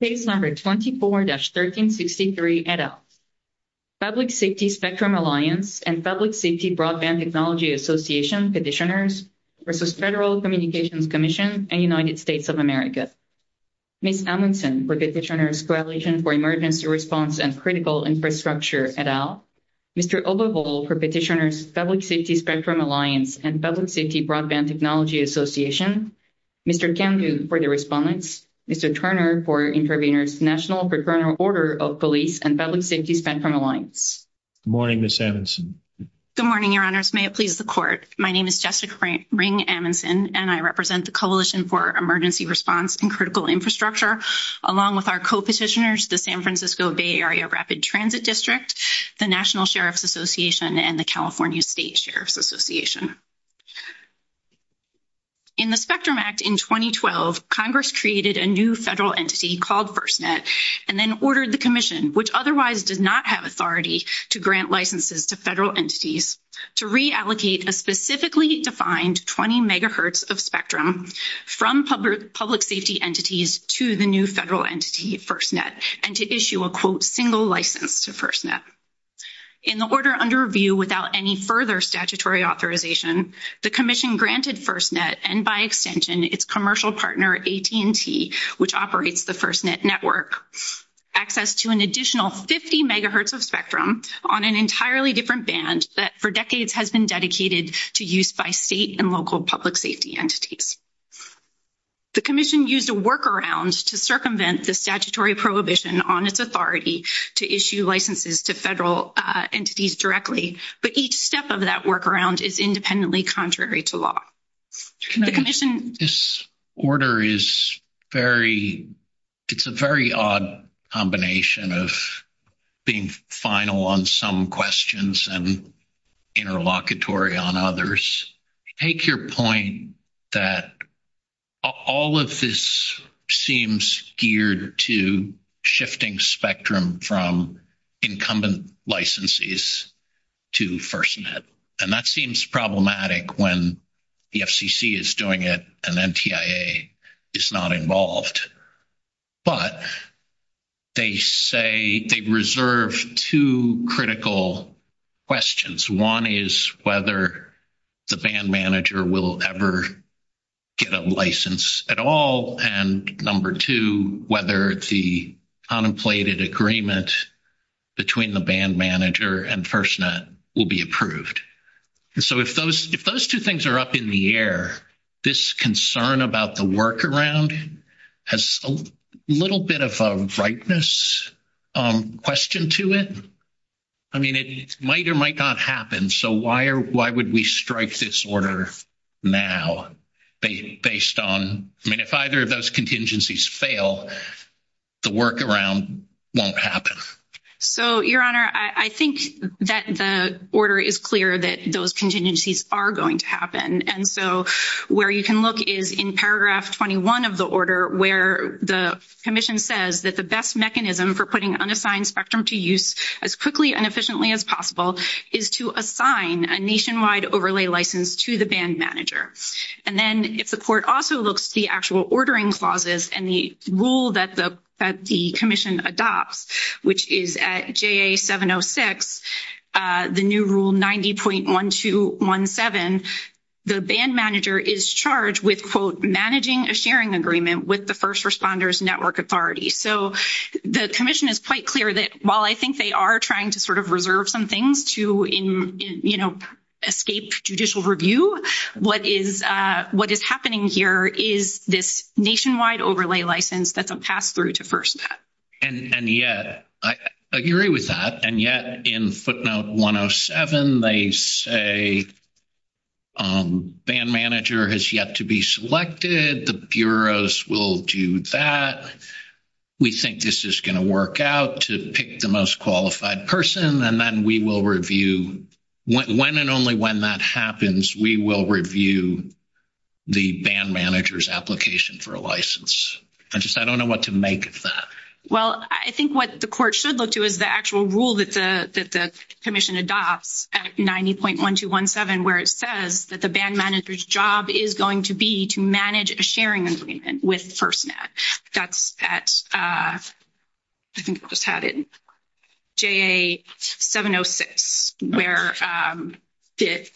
Page number 24-1363, et al. Public Safety Spectrum Alliance and Public Safety Broadband Technology Association Petitioners versus Federal Communications Commission and United States of America. Ms. Hamilton for the Petitioner's Coalition for Emergency Response and Critical Infrastructure, et al. Mr. Overholt for Petitioner's Public Safety Spectrum Alliance and Public Safety Mr. Turner for Intervener's National Procurement Order of Police and Public Safety Spectrum Alliance. Good morning, Ms. Amundson. Good morning, Your Honors. May it please the Court. My name is Jessica Ring Amundson, and I represent the Coalition for Emergency Response and Critical Infrastructure, along with our co-petitioners, the San Francisco Bay Area Rapid Transit District, the National Sheriffs Association, and the California State Sheriffs Association. In the Spectrum Act in 2012, Congress created a new federal entity called FirstNet, and then ordered the Commission, which otherwise did not have authority to grant licenses to federal entities, to reallocate a specifically defined 20 MHz of spectrum from public safety entities to the new federal entity, FirstNet, and to issue a quote, single license to FirstNet. In the order under review without any further statutory authorization, the Commission granted FirstNet, and by extension, its commercial partner, AT&T, which operates the FirstNet network, access to an additional 50 MHz of spectrum on an entirely different band that for decades has been dedicated to use by state and local public safety entities. The Commission used a workaround to circumvent the statutory prohibition on its authority to issue licenses to federal entities directly, but each step of that workaround is independently contrary to law. This order is very, it's a very odd combination of being final on some questions and interlocutory on others. Take your point that all of this seems geared to shifting spectrum from incumbent licenses to FirstNet, and that seems problematic when the FCC is doing it, and NTIA is not involved. But they say, they reserve two critical questions. One is whether the band manager will ever get a license at all, and number two, whether the contemplated agreement between the band manager and FirstNet will be approved. And so if those two things are up in the air, this concern about the workaround has a little bit of a ripeness question to it. I mean, it might or might not happen, so why would we strike this order now based on, I mean, if either of those contingencies fail, the workaround won't happen. So, Your Honor, I think that the order is clear that those contingencies are going to happen, and so where you can look is in paragraph 21 of the order where the commission says that the best mechanism for putting unassigned spectrum to use as quickly and efficiently as possible is to assign a nationwide overlay license to the band manager. And then if the court also looks at the actual ordering clauses and the rule that the commission adopts, which is at JA 706, the new rule 90.1217, the band manager is charged with, quote, managing a sharing agreement with the first responder's network authority. So the commission is quite clear that while I think they are trying to sort of reserve some things to, you know, escape judicial review, what is happening here is this nationwide overlay license that's been passed through to FirstNet. And yet, I agree with that, and yet in footnote 107 they say band manager has yet to be selected, the bureaus will do that. We think this is going to work out to pick the most qualified person, and then we will review when and only when that happens, we will review the band manager's application for a license. I just don't know what to make of that. Well, I think what the court should look to is the actual rule that the commission adopts at 90.1217 where it says that the band manager's job is going to be to manage a sharing agreement with FirstNet. That's at, I think I just had it, JA 706, where it,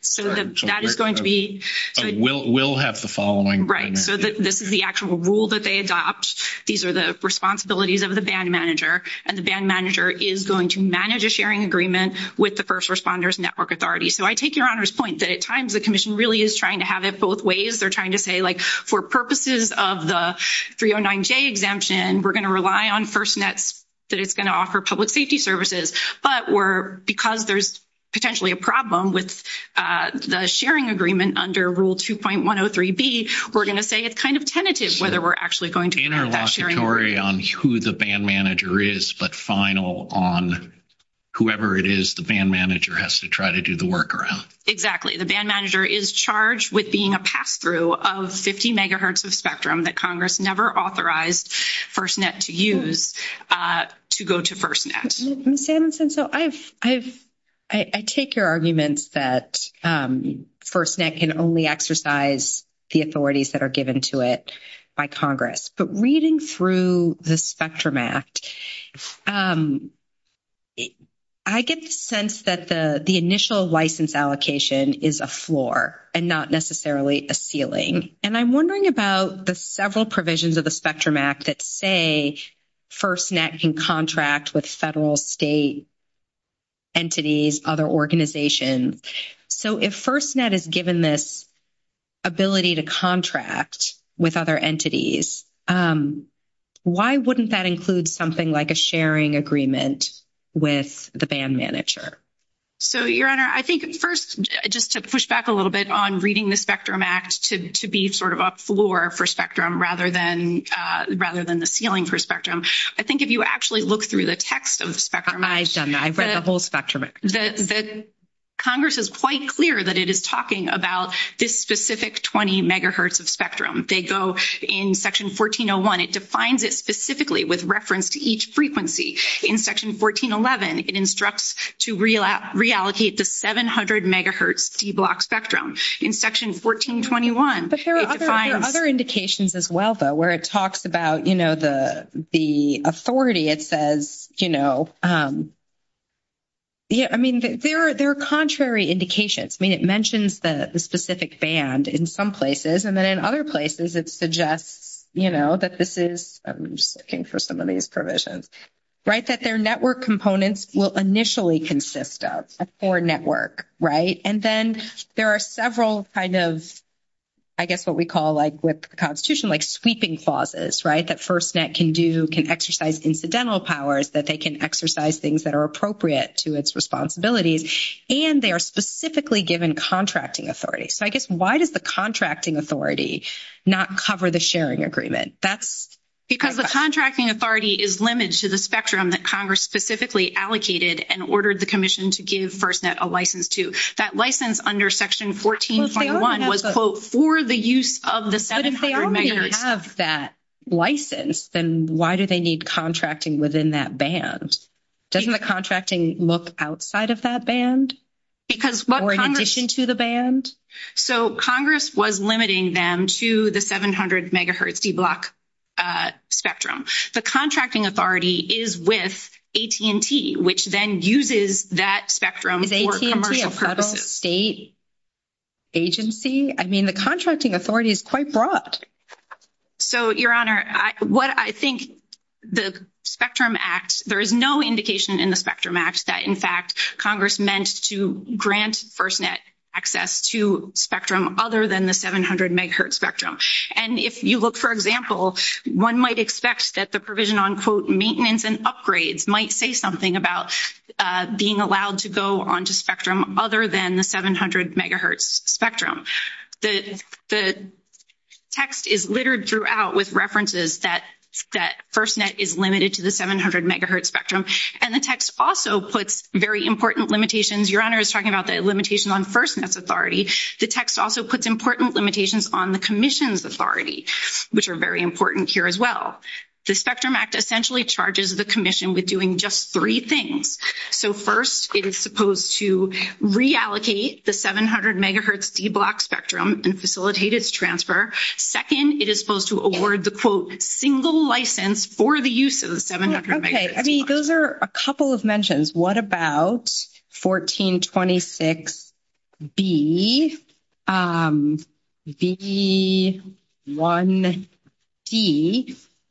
so that is going to be. Will have the following. Right. So, this is the actual rule that they adopt. These are the responsibilities of the band manager, and the band manager is going to manage a sharing agreement with the first responders network authority. So, I take your Honor's point that at times the commission really is trying to have it both ways. They're trying to say, like, for purposes of the 309J exemption, we're going to rely on FirstNet that it's going to offer public safety services, but we're, because there's potentially a problem with the sharing agreement under Rule 2.103B, we're going to say it's kind of tentative whether we're actually going to. In our lawsuit on who the band manager is, but final on whoever it is the band manager has to try to do the work around. Exactly. The band manager is charged with being a pass-through of 50 megahertz of spectrum that Congress never authorized FirstNet to use to go to FirstNet. Ms. Adamson, so I've, I've, I take your arguments that FirstNet can only exercise the authorities that are given to it by Congress, but reading through the Spectrum Act, I get the sense that the initial license allocation is a floor and not necessarily a ceiling. And I'm wondering about the several provisions of the Spectrum Act that say FirstNet can contract with federal, state entities, other organizations. So, if FirstNet is given this ability to contract with other entities, why wouldn't that include something like a sharing agreement with the band manager? So, Your Honor, I think first, just to push back a little bit on reading the Spectrum Act to be sort of a floor for spectrum rather than, rather than the ceiling for spectrum, I think if you actually look through the text of the Spectrum Act. I've read the whole Spectrum Act. Congress is quite clear that it is talking about this specific 20 megahertz of spectrum. They go in Section 1401, it defines it specifically with reference to each frequency. In Section 1411, it instructs to reallocate the 700 megahertz C-block spectrum. In Section 1421, it defines- But there are other indications as well, though, where it talks about, you know, the authority. It says, you know, I mean, there are contrary indications. I mean, it mentions the specific band in some places, and then in other places, it suggests, you know, that this is, I'm just will initially consist of a core network, right? And then there are several kind of, I guess, what we call like with the Constitution, like sweeping clauses, right? That FirstNet can do, can exercise incidental powers, that they can exercise things that are appropriate to its responsibilities, and they are specifically given contracting authority. So, I guess, why does the contracting authority not cover the sharing agreement? That's- Because the contracting authority is limited to the spectrum that Congress specifically allocated and ordered the Commission to give FirstNet a license to. That license under Section 1421 was, quote, for the use of the 700 megahertz. But if they already have that license, then why do they need contracting within that band? Doesn't the contracting look outside of that band? Because what Congress- Or in addition to the band? So, Congress was limiting them to the 700 megahertz D-block spectrum. The contracting authority is with AT&T, which then uses that spectrum- Is AT&T a federal state agency? I mean, the contracting authority is quite broad. So, Your Honor, what I think the Spectrum Act, there is no indication in the Spectrum Act that, in fact, Congress meant to grant FirstNet access to spectrum other than the 700 megahertz spectrum. And if you look, for example, one might expect that the provision on, quote, maintenance and upgrades might say something about being allowed to go onto spectrum other than the 700 megahertz spectrum. The text is littered throughout with references that FirstNet is limited to the 700 megahertz spectrum. And the text also puts very important limitations. Your Honor is talking about the limitation on FirstNet's authority. The text also puts important limitations on the commission's authority, which are very important here as well. The Spectrum Act essentially charges the commission with doing just three things. So, first, it is supposed to reallocate the 700 megahertz D-block spectrum and facilitate its transfer. Second, it is supposed to award the, quote, single license for the use of the 700 megahertz. Okay. I mean, those are a couple of mentions. What about 1426B, B1D,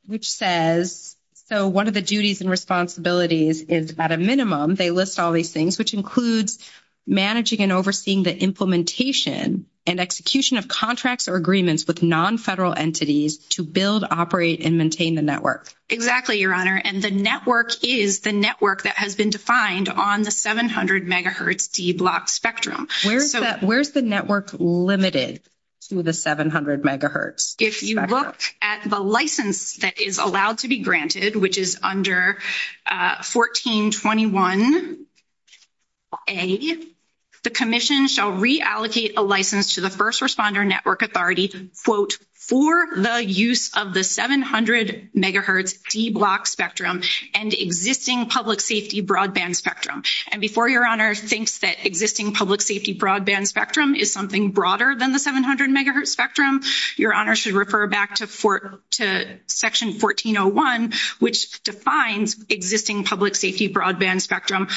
which says, so one of the duties and responsibilities is, at a minimum, they list all these things, which includes managing and overseeing the implementation and execution of contracts or agreements with non-federal entities to build, operate, and maintain the network. Exactly, Your Honor. And the network is the network that has been defined on the 700 megahertz D-block spectrum. Where is the network limited to the 700 megahertz? If you look at the license that is allowed to be granted, which is under 1421A, the commission shall reallocate a license to the first responder network authority, quote, for the use of the 700 megahertz D-block spectrum and existing public safety broadband spectrum. And before Your Honor thinks that existing public safety broadband spectrum is something broader than the 700 megahertz spectrum, Your Honor should refer back to section 1401, which defines existing public safety broadband spectrum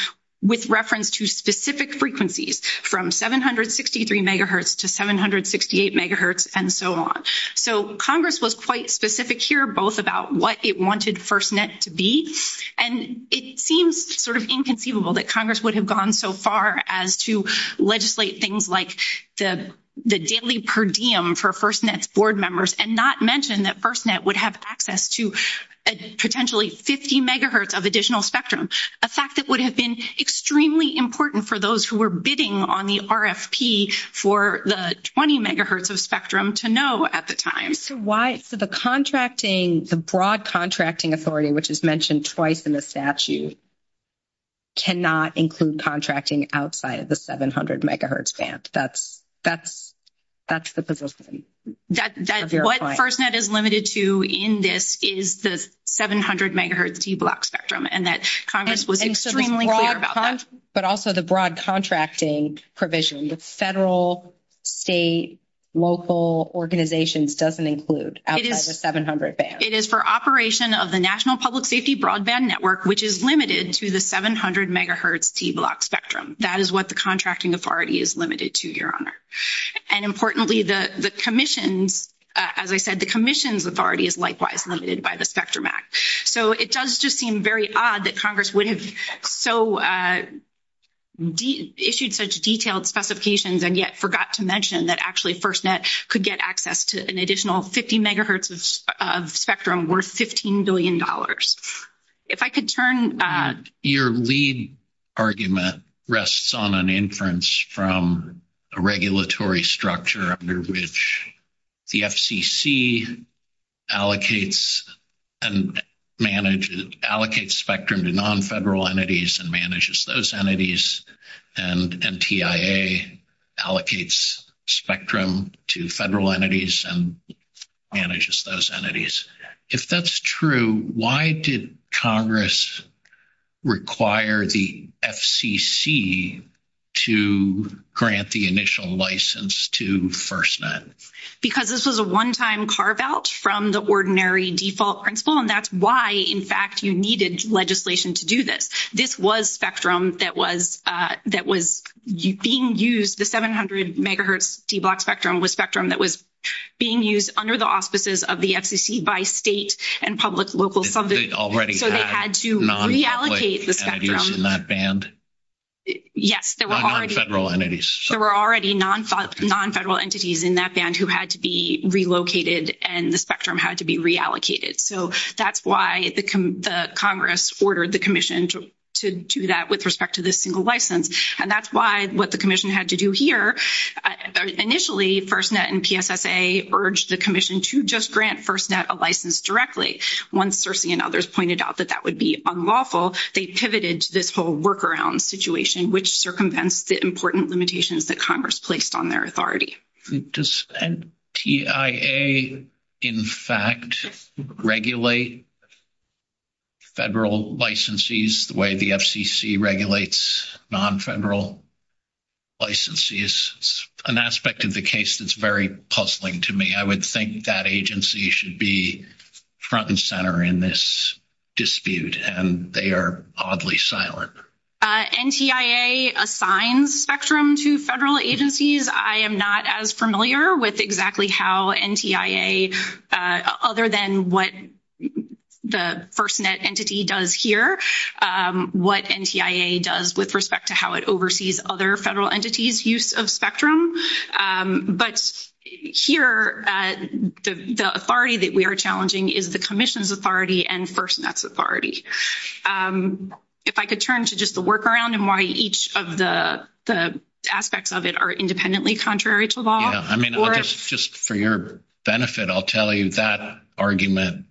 with reference to specific frequencies from 763 megahertz to 768 megahertz and so on. So Congress was quite specific here, both about what it wanted FirstNet to be, and it seems sort of inconceivable that Congress would have gone so far as to legislate things like the daily per diem for FirstNet's board members and not mention that FirstNet would have access to potentially 50 megahertz of additional spectrum, a fact that would have been extremely important for those who were bidding on the RFP for the 20 megahertz of spectrum to know at the time. So why, so the contracting, the broad contracting authority, which is mentioned twice in the statute, cannot include contracting outside of the 700 megahertz band. That's the position. That's what FirstNet is limited to in this is the 700 megahertz D-block spectrum and that Congress was extremely clear about that. But also the broad contracting provision with federal, state, local organizations doesn't include outside the 700 band. It is for operation of the national public safety broadband network, which is limited to the 700 megahertz D-block spectrum. That is what the contracting authority is limited to, Your Honor. And importantly, the commission, as I said, the commission's authority is likewise limited by the spectrum act. So it does just seem very odd that Congress would have so issued such detailed specifications and yet forgot to mention that actually FirstNet could get access to an additional 50 megahertz of spectrum worth $15 billion. If I could turn... Your lead argument rests on an inference from a regulatory structure under which the FCC allocates and manages, allocates spectrum to non-federal entities and manages those entities and NTIA allocates spectrum to federal entities and manages those entities. If that's true, why did Congress require the FCC to grant the initial license to FirstNet? Because this was a one-time carve-out from the ordinary default principle and that's why, in fact, you needed legislation to do this. This was spectrum that was, that was being used, the 700 megahertz D-block spectrum was spectrum that was being used under the auspices of the FCC by state and public local... They already had non-federal entities in that band? Yes, there were already non-federal entities in that band who had to be relocated and the spectrum had to be reallocated. So that's why the Congress ordered the commission to do that with respect to this single license and that's why what the commission had to do here, initially FirstNet and PFSA urged the commission to just grant FirstNet a license directly. Once Cersei and others pointed out that that would be unlawful, they pivoted this whole workaround situation which circumvents the important limitations that Congress placed on their authority. Does NTIA, in fact, regulate federal licensees the way the FCC regulates non-federal licensees? It's an aspect of the case that's very puzzling to me. I would think that agency should be front and center in this dispute and they are oddly silent. NTIA assigns spectrum to federal agencies. I am not as familiar with exactly how NTIA, other than what the FirstNet entity does here, what NTIA does with respect to how it oversees other federal entities' use of spectrum. But here the authority that we are challenging is the commission's authority and FirstNet's authority. If I could turn to just the workaround and why each of the aspects of it are independently contrary to law. I mean, just for your benefit, I'll tell you that argument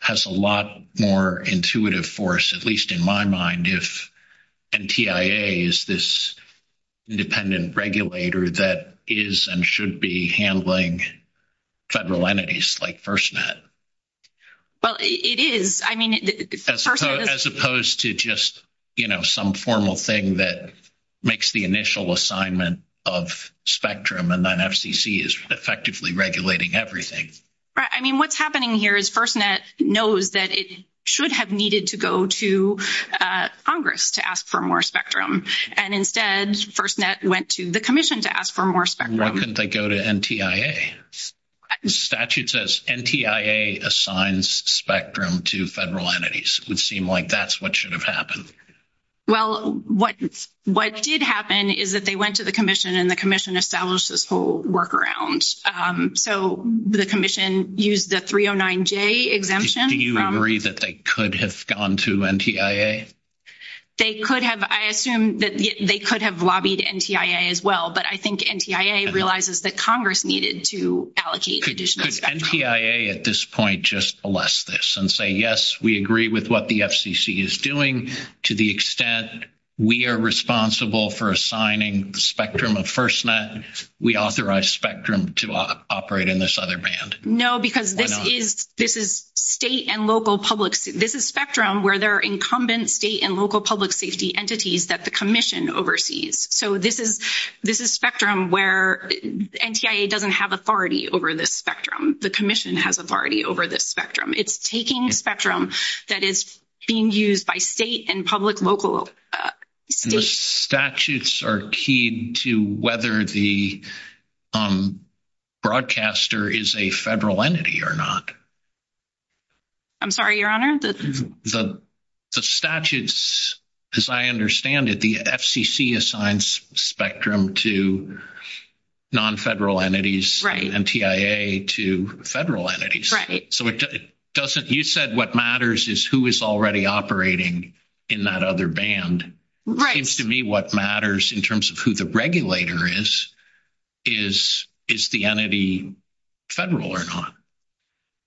has a lot more intuitive force, at least in my mind, if NTIA is this independent regulator that is and should be handling federal entities like FirstNet. Well, it is. I mean... As opposed to just, you know, some formal thing that makes the initial assignment of spectrum and then FCC is effectively regulating everything. Right. I mean, what's happening here is FirstNet knows that it should have needed to go to Congress to ask for more spectrum. And instead, FirstNet went to the commission to ask for more spectrum. Why couldn't they go to NTIA? The statute says NTIA assigns spectrum to federal entities. It would seem like that's what should have happened. Well, what did happen is that they went to the commission and the commission established this whole workaround. So the commission used the 309J exemption. Do you agree that they could have gone to NTIA? They could have. I assume that they could have lobbied NTIA as well. But I think NTIA realizes that Congress needed to allocate additional spectrum. Could NTIA at this point just bless this and say, yes, we agree with what the FCC is doing to the extent we are responsible for assigning spectrum of FirstNet, we authorize spectrum to operate in this other band? No, because this is state and local public. This is spectrum where there are incumbent state and local public safety entities that the commission oversees. So this is spectrum where NTIA doesn't have authority over this spectrum. The commission has authority over this spectrum. It's taking spectrum that is being used by state and public local... The statutes are key to whether the broadcaster is a federal entity or not. I'm sorry, Your Honor? The statutes, as I understand it, the FCC assigns spectrum to non-federal entities, the NTIA to federal entities. So you said what matters is who is already operating in that other band. It seems to me what matters in terms of who the regulator is, is the entity federal or not?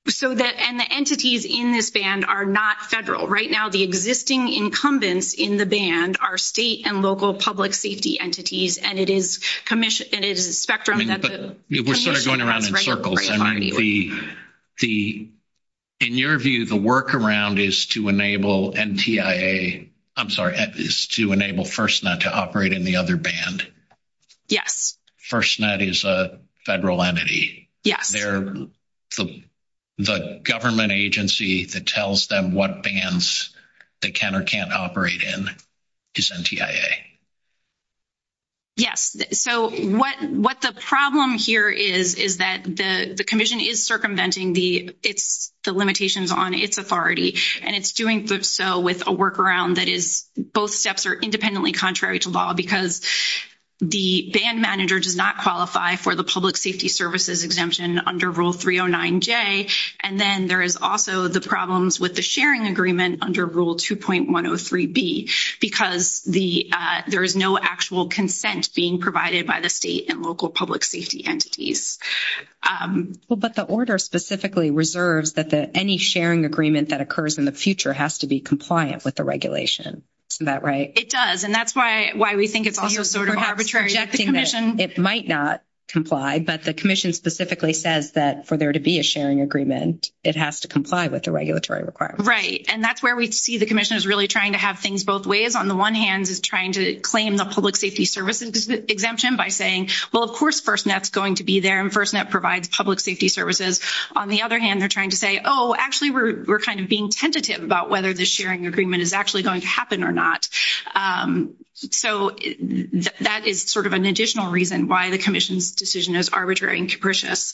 And the entities in this band are not federal. Right now, the existing incumbents in the band are state and local public safety entities, and it is spectrum that the commission... We're going around in circles. In your view, the workaround is to enable NTIA... I'm sorry, is to enable FirstNet to operate in the other band. Yes. FirstNet is a federal entity. They're the government agency that tells them what bands they can or can't operate in is NTIA. Yes. So what the problem here is is that the commission is circumventing the limitations on its authority, and it's doing so with a workaround that is both steps are independently contrary to law, because the band manager does not qualify for the public safety services exemption under Rule 309J. And then there is also the problems with the sharing agreement under Rule 2.103B, because there is no actual consent being provided by the state and local public safety entities. Well, but the order specifically reserves that any sharing agreement that occurs in the future has to be compliant with the regulation. Is that right? It does. And that's why we think it's also sort of arbitrary. It might not comply, but the commission specifically says that for there to be a sharing agreement, it has to comply with the regulatory requirements. Right. And that's where we see the commission is really trying to have things both ways. On the one hand, it's trying to claim the public safety services exemption by saying, well, of course, FirstNet's going to be there, and FirstNet provides public safety services. On the other hand, they're trying to say, oh, actually, we're kind of being tentative about whether the sharing agreement is actually going to happen or not. So that is sort of an additional reason why the commission's decision is arbitrary and capricious.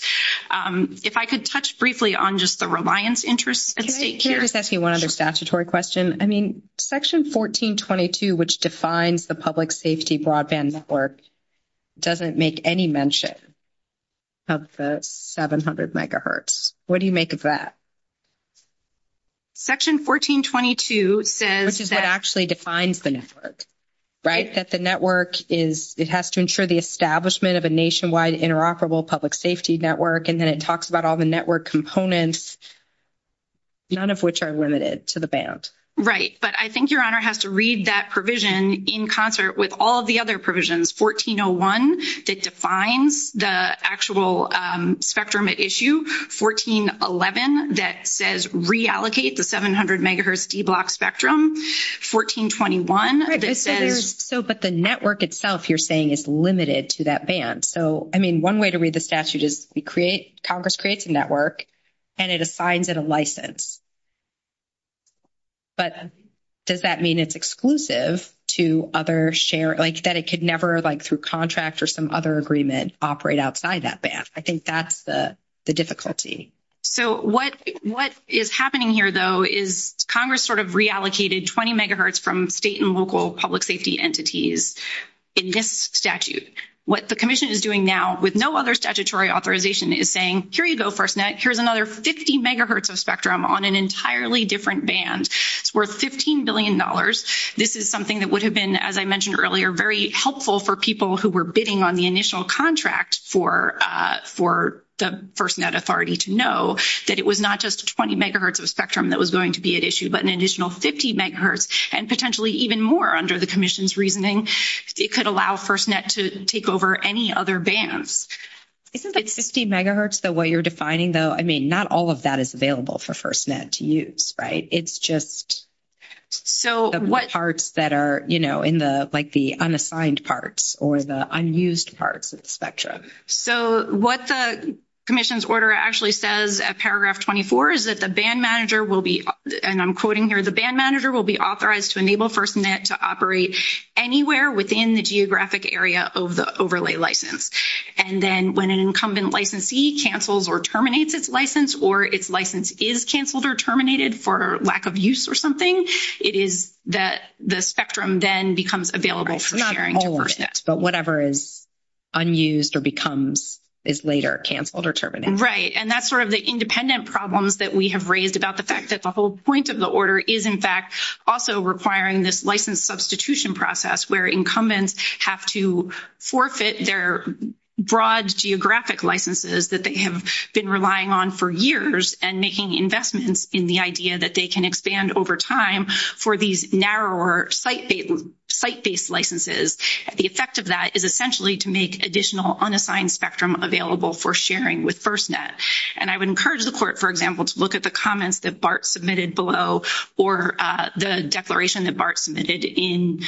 If I could touch briefly on just the reliance interest in state care. Can I just ask you one other statutory question? I mean, Section 1422, which defines the public safety broadband network, doesn't make any mention of the 700 megahertz. What do you make of that? Section 1422 says that... Which actually defines the network, right? That the network is, it has to ensure the establishment of a nationwide interoperable public safety network, and then it talks about all the network components, none of which are limited to the band. Right. But I think Your Honor has to read that provision in concert with all the other provisions. 1401, that defines the actual spectrum at issue. 1411, that says reallocate the 700 megahertz D-block spectrum. 1421, that says... But the network itself, you're saying, is limited to that band. So, I mean, one way to read the statute is we create, Congress creates a network, and it assigns it a license. But does that mean it's exclusive to other share, like, that it could never, like, through contract or some other agreement, operate outside that band? I think that's the difficulty. So, what is happening here, though, is Congress sort of reallocated 20 megahertz from state and local public safety entities in this statute. What the Commission is doing now, with no other statutory authorization, is saying, here you go, FirstNet, here's another 50 megahertz of spectrum on an entirely different band. It's worth $15 billion. This is something that would have been, as I mentioned earlier, very helpful for people who were bidding on the initial contract for the FirstNet authority to know that it was not just 20 megahertz of spectrum that was going to be at issue, but an additional 50 megahertz, and potentially even more under the Commission's reasoning. It could allow FirstNet to take over any other bands. Isn't, like, 50 megahertz the way you're defining, though? I mean, not all of that is available for FirstNet to use, right? It's just the parts that are, you know, in the, like, the unassigned parts or the unused parts of the spectrum. So, what the Commission's order actually says at paragraph 24 is that the band manager will be, and I'm quoting here, the band manager will be authorized to enable FirstNet to operate anywhere within the geographic area of the overlay license. And then when an incumbent licensee cancels or terminates its license, or its license is canceled or terminated for lack of use or something, it is that the spectrum then becomes available for sharing. Not all FirstNet, but whatever is unused or becomes, is later canceled or terminated. Right. And that's sort of the independent problems that we have raised about the fact that the whole point of the order is, in fact, also requiring this license substitution process, where incumbents have to forfeit their broad geographic licenses that they have been relying on for years and making investments in the idea that they can expand over time for these narrower site-based licenses. The effect of that is essentially to make additional unassigned spectrum available for sharing with FirstNet. And I would encourage the court, for example, to look at the comments that Bart submitted below or the declaration that Bart submitted in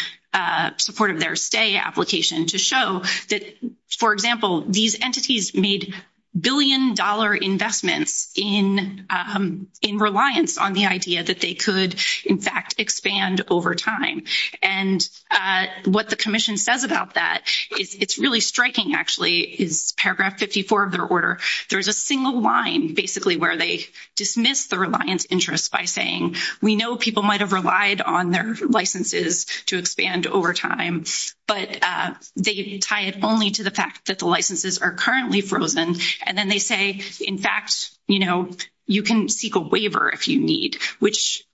support of their stay application to show that, for example, these entities made billion-dollar investments in reliance on the idea that they could, in fact, expand over time. And what the commission says about that, it's really striking, actually, in paragraph 54 of their order, there's a single line, basically, where they dismiss the reliance interest by saying, we know people might have relied on their licenses to expand over time, but they tie it only to the fact that the licenses are currently frozen. And then they say, in fact, you know, you can seek a waiver if you need, which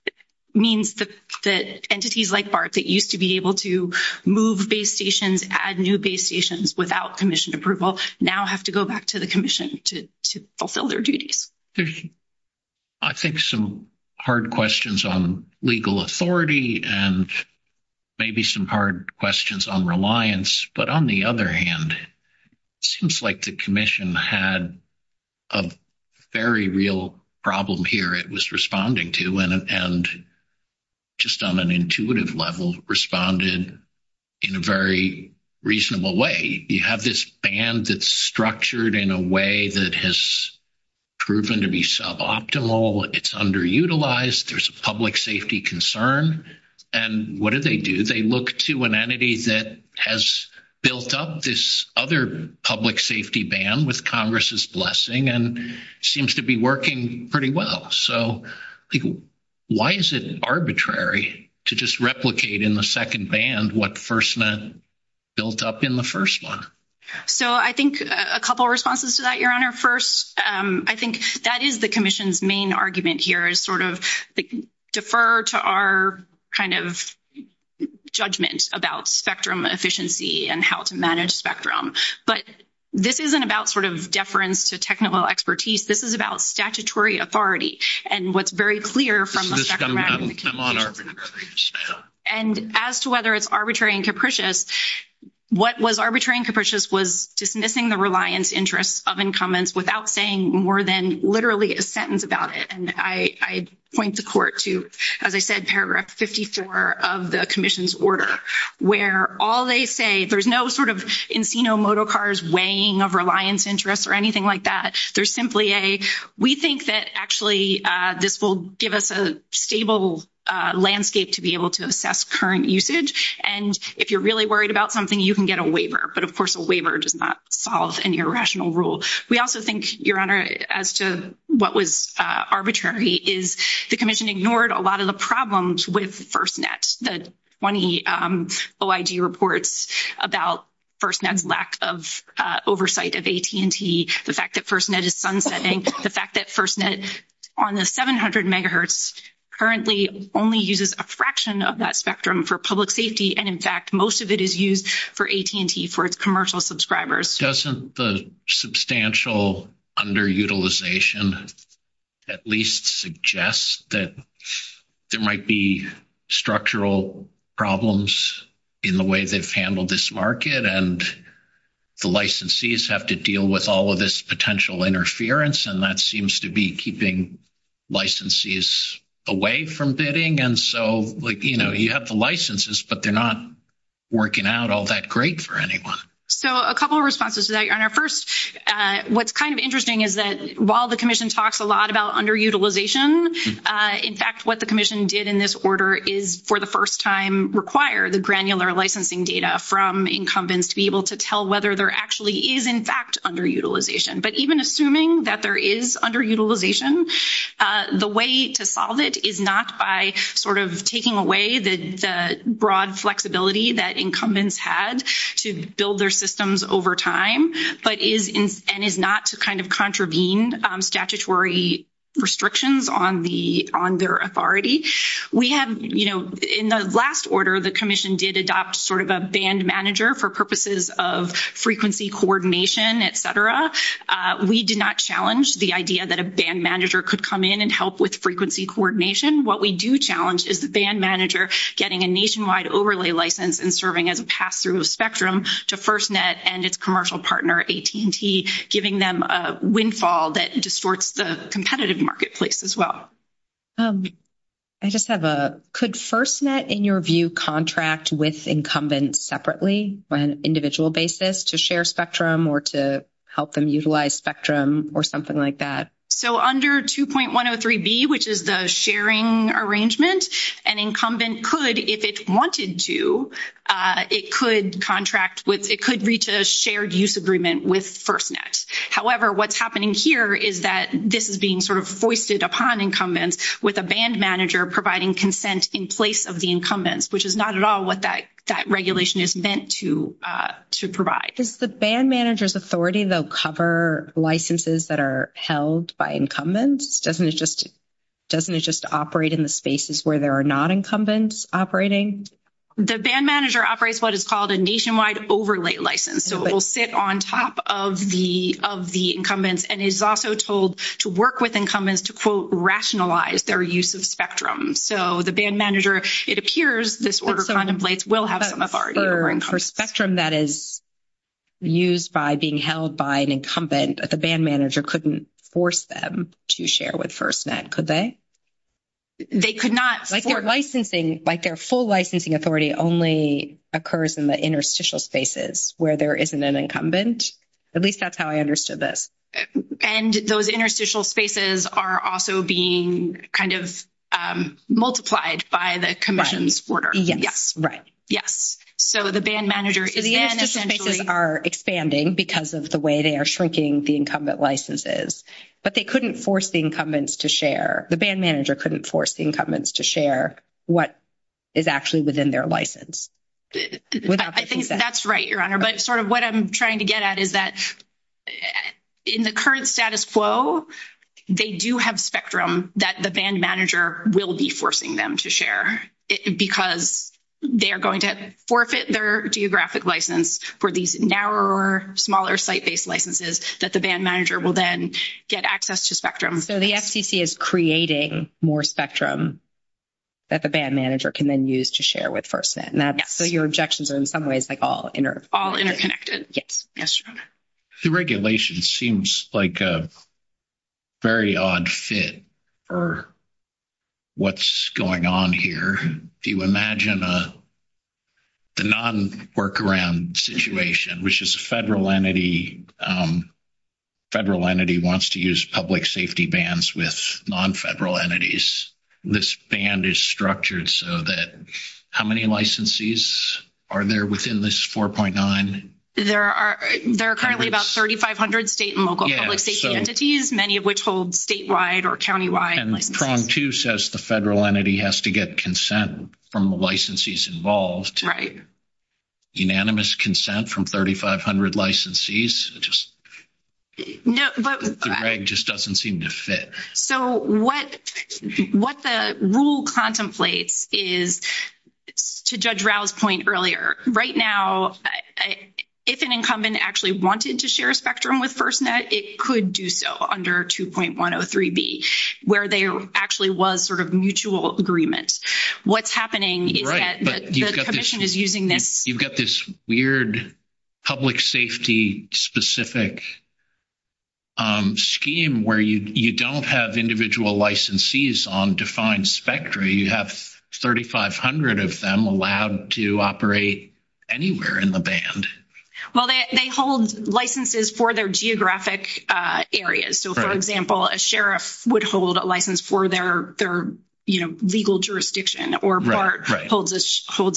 means that entities like Bart that used to be able to move base stations, add new base stations without commission approval now have to go back to the commission to fulfill their duties. I think some hard questions on legal authority and maybe some hard questions on reliance, but on the other hand, it seems like the commission had a very real problem here. It was responding to and just on an intuitive level responded in a very reasonable way. You have this band that's structured in a way that has proven to be suboptimal. It's underutilized. There's a public safety concern. And what do they do? They look to an entity that has built up this other public safety band with Congress's blessing and seems to be working pretty well. So why is it arbitrary to just replicate in the second band what first built up in the first one? So I think a couple responses to that, your honor. First, I think that is the commission's main argument here is sort of defer to our kind of judgment about spectrum efficiency and how to manage spectrum. But this isn't about sort of deference to technical expertise. This is about statutory authority and what's very clear from the second band. And as to whether it's arbitrary and capricious, what was arbitrary and capricious was dismissing the reliance interest of incumbents without saying more than literally a sentence about it. And I point the court to, as I said, paragraph 54 of the commission's order, where all they say, there's no sort of encino motocars weighing of reliance interest or anything like that. There's simply a, we think that actually this will give us a stable landscape to be able to assess current usage. And if you're really worried about something, you can get a waiver. But of course, a waiver does not fall in your rational rule. We also think, your honor, as to what was arbitrary is the commission ignored a lot of the FirstNet, the 20 OIG reports about FirstNet's lack of oversight of AT&T, the fact that FirstNet is sunsetting, the fact that FirstNet on the 700 megahertz currently only uses a fraction of that spectrum for public safety. And in fact, most of it is used for AT&T for its commercial subscribers. Doesn't the substantial underutilization at least suggest that there might be structural problems in the way they've handled this market and the licensees have to deal with all of this potential interference. And that seems to be keeping licensees away from bidding. And so, like, you know, you have the licenses, but they're not working out all that great for anyone. So, a couple of responses to that, your honor. First, what's kind of interesting is that while the commission talks a lot about underutilization, in fact, what the commission did in this order is for the first time require the granular licensing data from incumbents to be able to tell whether there actually is in fact underutilization. But even assuming that there is underutilization, the way to solve it is not by sort of taking away the broad flexibility that incumbents had to build their systems over time, but is and is not to kind of contravene statutory restrictions on their authority. We have, you know, in the last order, the commission did adopt sort of a band manager for purposes of frequency coordination, et cetera. We did not challenge the idea that a band manager could come in and help with frequency coordination. What we do challenge is the band manager getting a nationwide overlay license and serving as a spectrum to FirstNet and its commercial partner, AT&T, giving them a windfall that distorts the competitive marketplace as well. I just have a, could FirstNet, in your view, contract with incumbents separately on an individual basis to share spectrum or to help them utilize spectrum or something like that? So, under 2.103b, which is the sharing arrangement, an incumbent could, if it wanted to, it could contract with, it could reach a shared use agreement with FirstNet. However, what's happening here is that this is being sort of foisted upon incumbents with a band manager providing consent in place of the incumbents, which is not at all what that regulation is meant to provide. Is the band manager's authority to cover licenses that are held by incumbents? Doesn't it just operate in the spaces where there are non-incumbents operating? The band manager operates what is called a nationwide overlay license. So, it will sit on top of the incumbents and is also told to work with incumbents to, quote, rationalize their use of spectrum. So, the band manager, it appears, this order is not in place, will have an authority. For spectrum that is used by being held by an incumbent, the band manager couldn't force them to share with FirstNet, could they? They could not. Like their licensing, like their full licensing authority only occurs in the interstitial spaces where there isn't an incumbent. At least that's how I understood this. And those interstitial spaces are also being kind of multiplied by the commission's order. Yes. Right. Yes. So, the band manager is... The interstitial spaces are expanding because of the way they are shrinking the incumbent licenses, but they couldn't force the incumbents to share, the band manager couldn't force the incumbents to share what is actually within their license. I think that's right, Your Honor. But sort of what I'm trying to get at is that in the current status quo, they do have spectrum that the band manager will be forcing them to share because they are going to forfeit their geographic license for these narrower, smaller site-based licenses that the band manager will then get access to spectrum. So, the FCC is creating more spectrum that the band manager can then use to share with FirstNet. And so, your objections are in some ways like all interconnected. Yes, Your Honor. The regulation seems like a very odd fit for what's going on here. Do you imagine a non-workaround situation, which is a federal entity, federal entity wants to use public safety bands with non-federal entities. This band is structured so that... How many licensees are there within this 4.9? There are currently about 3,500 state and local public safety entities, many of which hold statewide or countywide. Prong, too, says the federal entity has to get consent from the licensees involved. Unanimous consent from 3,500 licensees just doesn't seem to fit. So, what the rule contemplates is, to Judge Rowe's point earlier, right now, if an incumbent actually wanted to share spectrum with FirstNet, it could do so under 2.103b, where there actually was sort of mutual agreement. What's happening is that the commission is using this. You've got this weird public safety specific scheme where you don't have individual licensees on defined spectra. You have 3,500 of them allowed to operate anywhere in the band. Well, they hold licenses for their geographic areas. So, for example, a sheriff would hold a license for their legal jurisdiction, or BART holds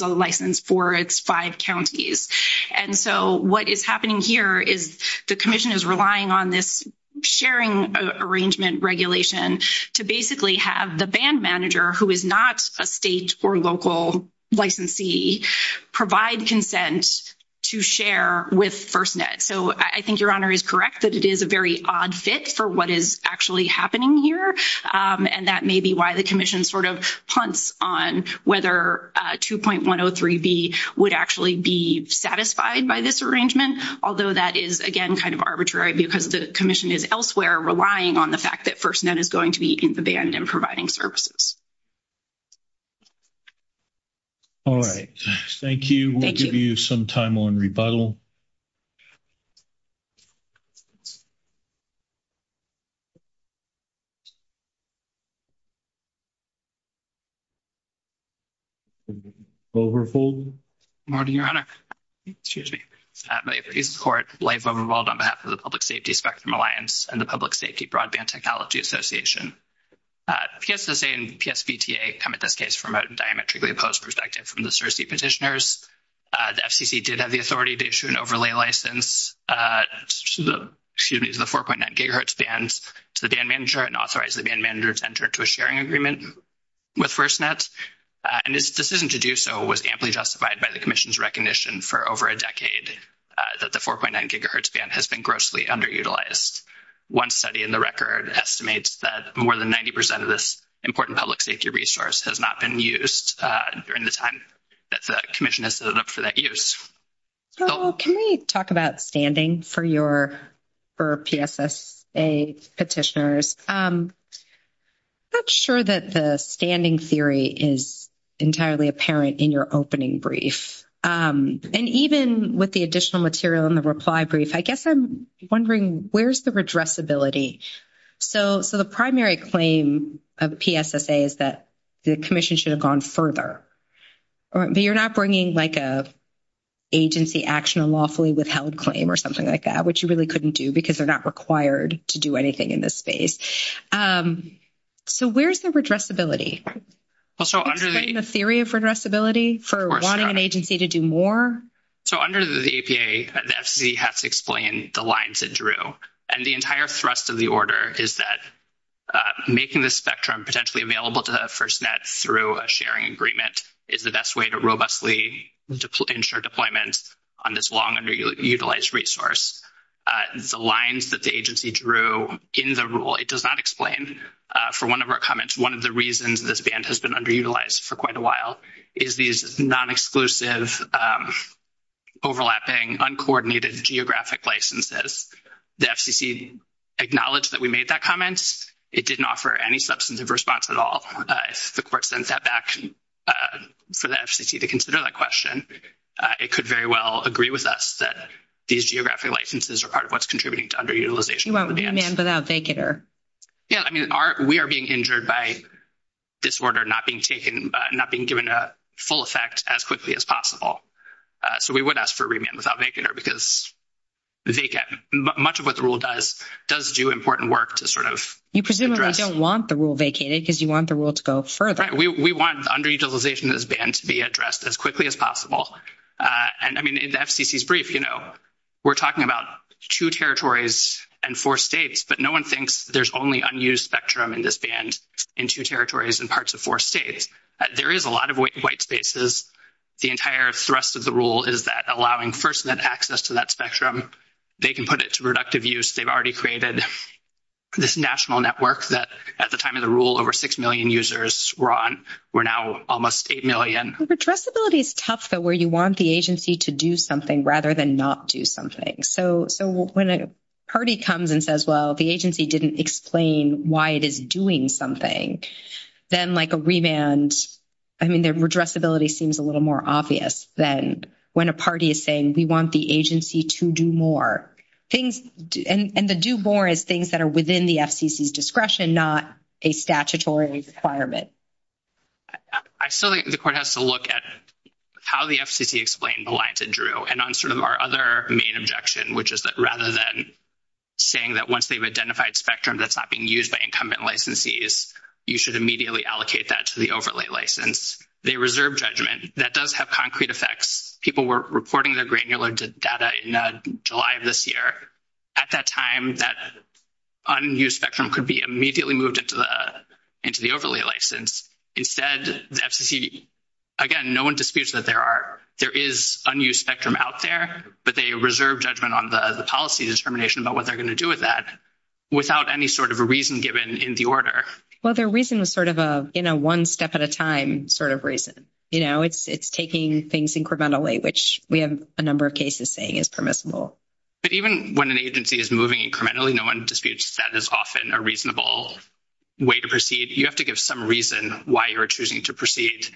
a license for its five counties. And so, what is happening here is the commission is relying on this sharing arrangement regulation to basically have the band manager, who is not a state or local licensee, provide consent to share with FirstNet. So, I think Your Honor is correct that it is a very odd fit for what is actually happening here, and that may be why the commission sort of hunts on whether 2.103b would actually be satisfied by this arrangement, although that is, again, kind of arbitrary because the commission is elsewhere relying on the fact that FirstNet is going to be in the band and providing services. All right. Thank you. Thank you. We'll give you some time on rebuttal. Governor Fulton? Good morning, Your Honor. Excuse me. My plea is to the court. Blaise Boehm is involved on behalf of the Public Safety Spectrum Alliance and the Public Safety Broadband Technology Association. PSSA and PSBTA come at this case from a diametrically opposed perspective from the 4.9 gigahertz band to the band manager and authorize the band manager to enter into a sharing agreement with FirstNet, and its decision to do so was amply justified by the commission's recognition for over a decade that the 4.9 gigahertz band has been grossly underutilized. One study in the record estimates that more than 90 percent of this important public safety resource has not been used during the time that the commission has set it up for that use. So can we talk about standing for PSSA petitioners? I'm not sure that the standing theory is entirely apparent in your opening brief. And even with the additional material in the reply brief, I guess I'm wondering where's the redressability? So the primary claim of PSSA is that the commission should have gone further. But you're not bringing, like, an agency action lawfully withheld claim or something like that, which you really couldn't do because they're not required to do anything in this space. So where's the redressability? The theory of redressability for wanting an agency to do more? So under the APA, the SEC has to explain the lines it drew. And the entire thrust of the order is that making the spectrum potentially available to the FirstNet through a sharing agreement is the best way to robustly ensure deployment on this long underutilized resource. The lines that the agency drew in the rule, it does not explain. For one of our comments, one of the reasons this band has been underutilized for quite a while is these non-exclusive, overlapping, uncoordinated geographic licenses. The FCC acknowledged that we made that comment. It didn't offer any substantive response at all. The court sent that back for the FCC to consider that question. It could very well agree with us that these geographic licenses are part of what's contributing to underutilization. You want remand without vacator. Yeah. I mean, we are being injured by this order not being taken, not being given a full effect as quickly as possible. So we would ask for remand without vacator because they get, much of what the rule does, does do important work to sort of address. You presumably don't want the rule vacated because you want the rule to go further. Right. We want underutilization of this band to be addressed as quickly as possible. And I mean, in the FCC's brief, you know, we're talking about two territories and four states, but no one thinks there's only unused spectrum in this band in two territories and parts of four states. There is a lot of white spaces. The entire thrust of the rule is that allowing first access to that spectrum, they can put it to reductive use. They've already created this national network that at the time of the rule, over 6 million users were on. We're now almost 8 million. Redressability is tough, though, where you want the agency to do something rather than not do something. So when a party comes and says, well, the agency didn't explain why it is doing something, then like a remand, I mean, their redressability seems a little more obvious than when a party is saying we want the agency to do more. And the do more is things that are within the FCC's discretion, not a statutory requirement. I feel like the court has to look at how the FCC explained the lines it drew and on sort of our other main objection, which is that rather than saying that once they've identified spectrum that's not being used by incumbent licensees, you should immediately allocate that to the overlay license. They reserve judgment. That does have concrete effects. People were reporting their granular data in July of this year. At that time, that unused spectrum could be immediately moved into the overlay license. Instead, the FCC, again, no one disputes that there is unused spectrum out there, but they reserve judgment on the policy determination about what they're going to do with that without any sort of a reason given in the order. Well, their reason is sort of a, you know, one step at a time sort of reason. You know, it's taking things incrementally, which we have a number of cases saying is permissible. But even when an agency is moving incrementally, no one disputes that is often a reasonable way to proceed. You have to give some reason why you're choosing to proceed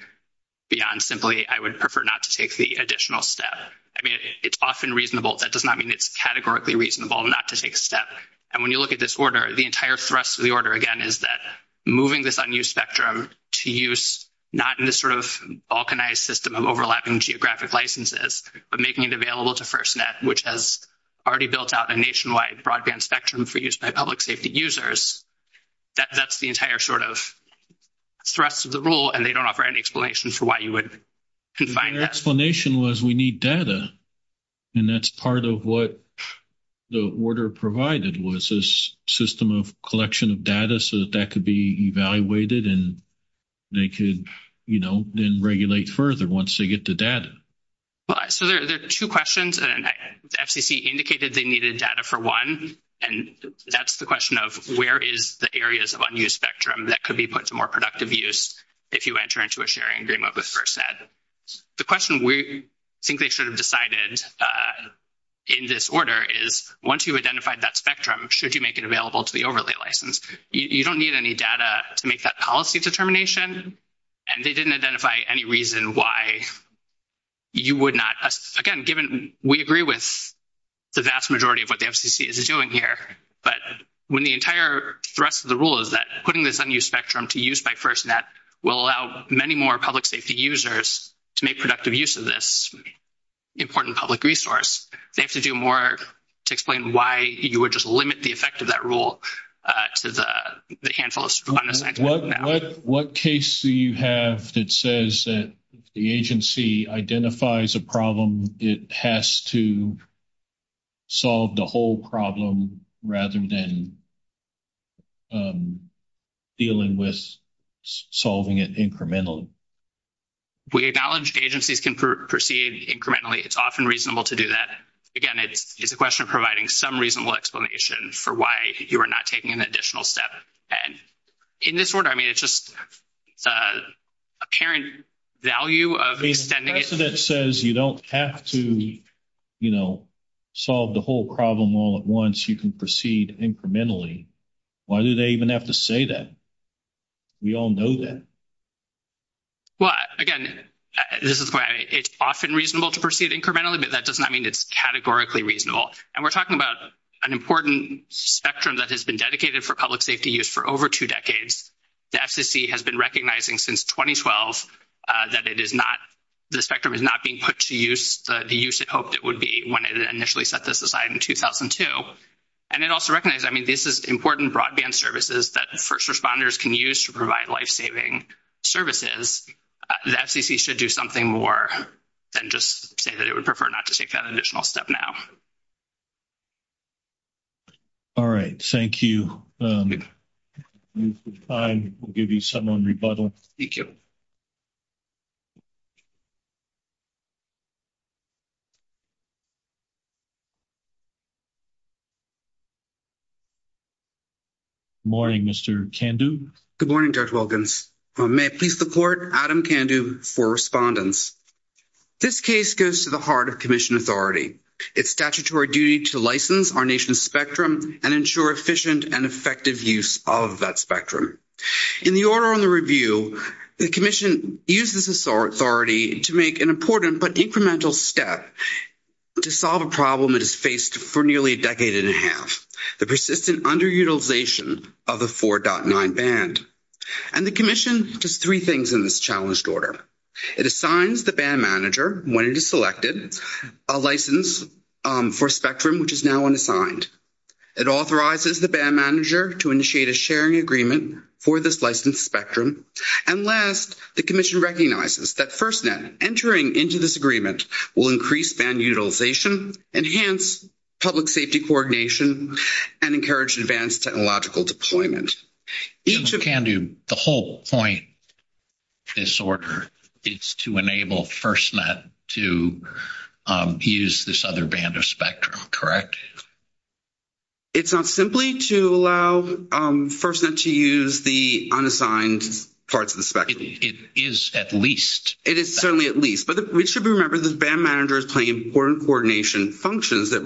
beyond simply I would prefer not to take the additional step. I mean, it's often reasonable. That does not mean it's categorically reasonable not to take a step. And when you look at this the entire thrust of the order, again, is that moving this unused spectrum to use not in this sort of balkanized system of overlapping geographic licenses, but making it available to FirstNet, which has already built out a nationwide broadband spectrum for use by public safety users. That's the entire sort of thrust of the rule, and they don't offer any explanation for why you would confine that. The explanation was we need data. And that's part of what the order provided was this system of collection of data so that that could be evaluated and they could, you know, then regulate further once they get the data. So there's two questions, and FCC indicated they needed data for one, and that's the question of where is the areas of unused spectrum that could be put to more productive use if you enter into a sharing agreement with FirstNet. The question we think they should have decided in this order is once you've identified that spectrum, should you make it available to the overlay license? You don't need any data to make that policy determination, and they didn't identify any reason why you would not. Again, given we agree with the vast majority of what the FCC is doing here, but when the entire thrust of the rule is that putting this unused spectrum to use by FirstNet will allow many more public safety users to make productive use of this important public resource, they have to do more to explain why you would just limit the effect of that rule to the handful of... What case do you have that says that the agency identifies a problem, it has to solve the whole problem rather than dealing with solving it incrementally? We acknowledge agencies can proceed incrementally. It's often reasonable to do that. Again, it's a question of providing some reasonable explanation for why you are not taking an additional step. And in this order, I mean, it's just the apparent value of... If FirstNet says you don't have to, you know, solve the whole problem all at once, you can proceed incrementally, why do they even have to say that? We all know that. Well, again, this is why it's often reasonable to proceed incrementally, but that does not mean it's categorically reasonable. And we're talking about an important spectrum that has been dedicated for public safety use for over two decades. The FCC has been recognizing since 2012 that it is not, the spectrum is not being put to use, the use it hoped it would be when it initially set this aside in 2002. And it also recognizes, I mean, this is important broadband services that first responders can use to provide life-saving services. The FCC should do something more than just say that it would prefer not to take that additional step now. All right. Thank you. I will give you some more rebuttal. Thank you. Good morning, Mr. Kandu. Good morning, Judge Wilkins. May I please support Adam Kandu for respondence? This case goes to the heart of commission authority. It's statutory duty to license our nation's spectrum and ensure efficient and effective use of that spectrum. In the authority to make an important but incremental step to solve a problem that is faced for nearly a decade and a half, the persistent underutilization of the 4.9 band. And the commission does three things in this challenged order. It assigns the band manager, when it is selected, a license for spectrum, which is now unassigned. It authorizes the band manager to initiate a sharing agreement for this licensed spectrum. And last, the commission recognizes that FirstNet entering into this agreement will increase band utilization, enhance public safety coordination, and encourage advanced technological deployment. Mr. Kandu, the whole point of this order is to enable FirstNet to use this other band of spectrum, correct? It's not simply to allow FirstNet to use the unassigned parts of the spectrum. It is at least. It is certainly at least. But we should remember that this band manager is playing important coordination functions that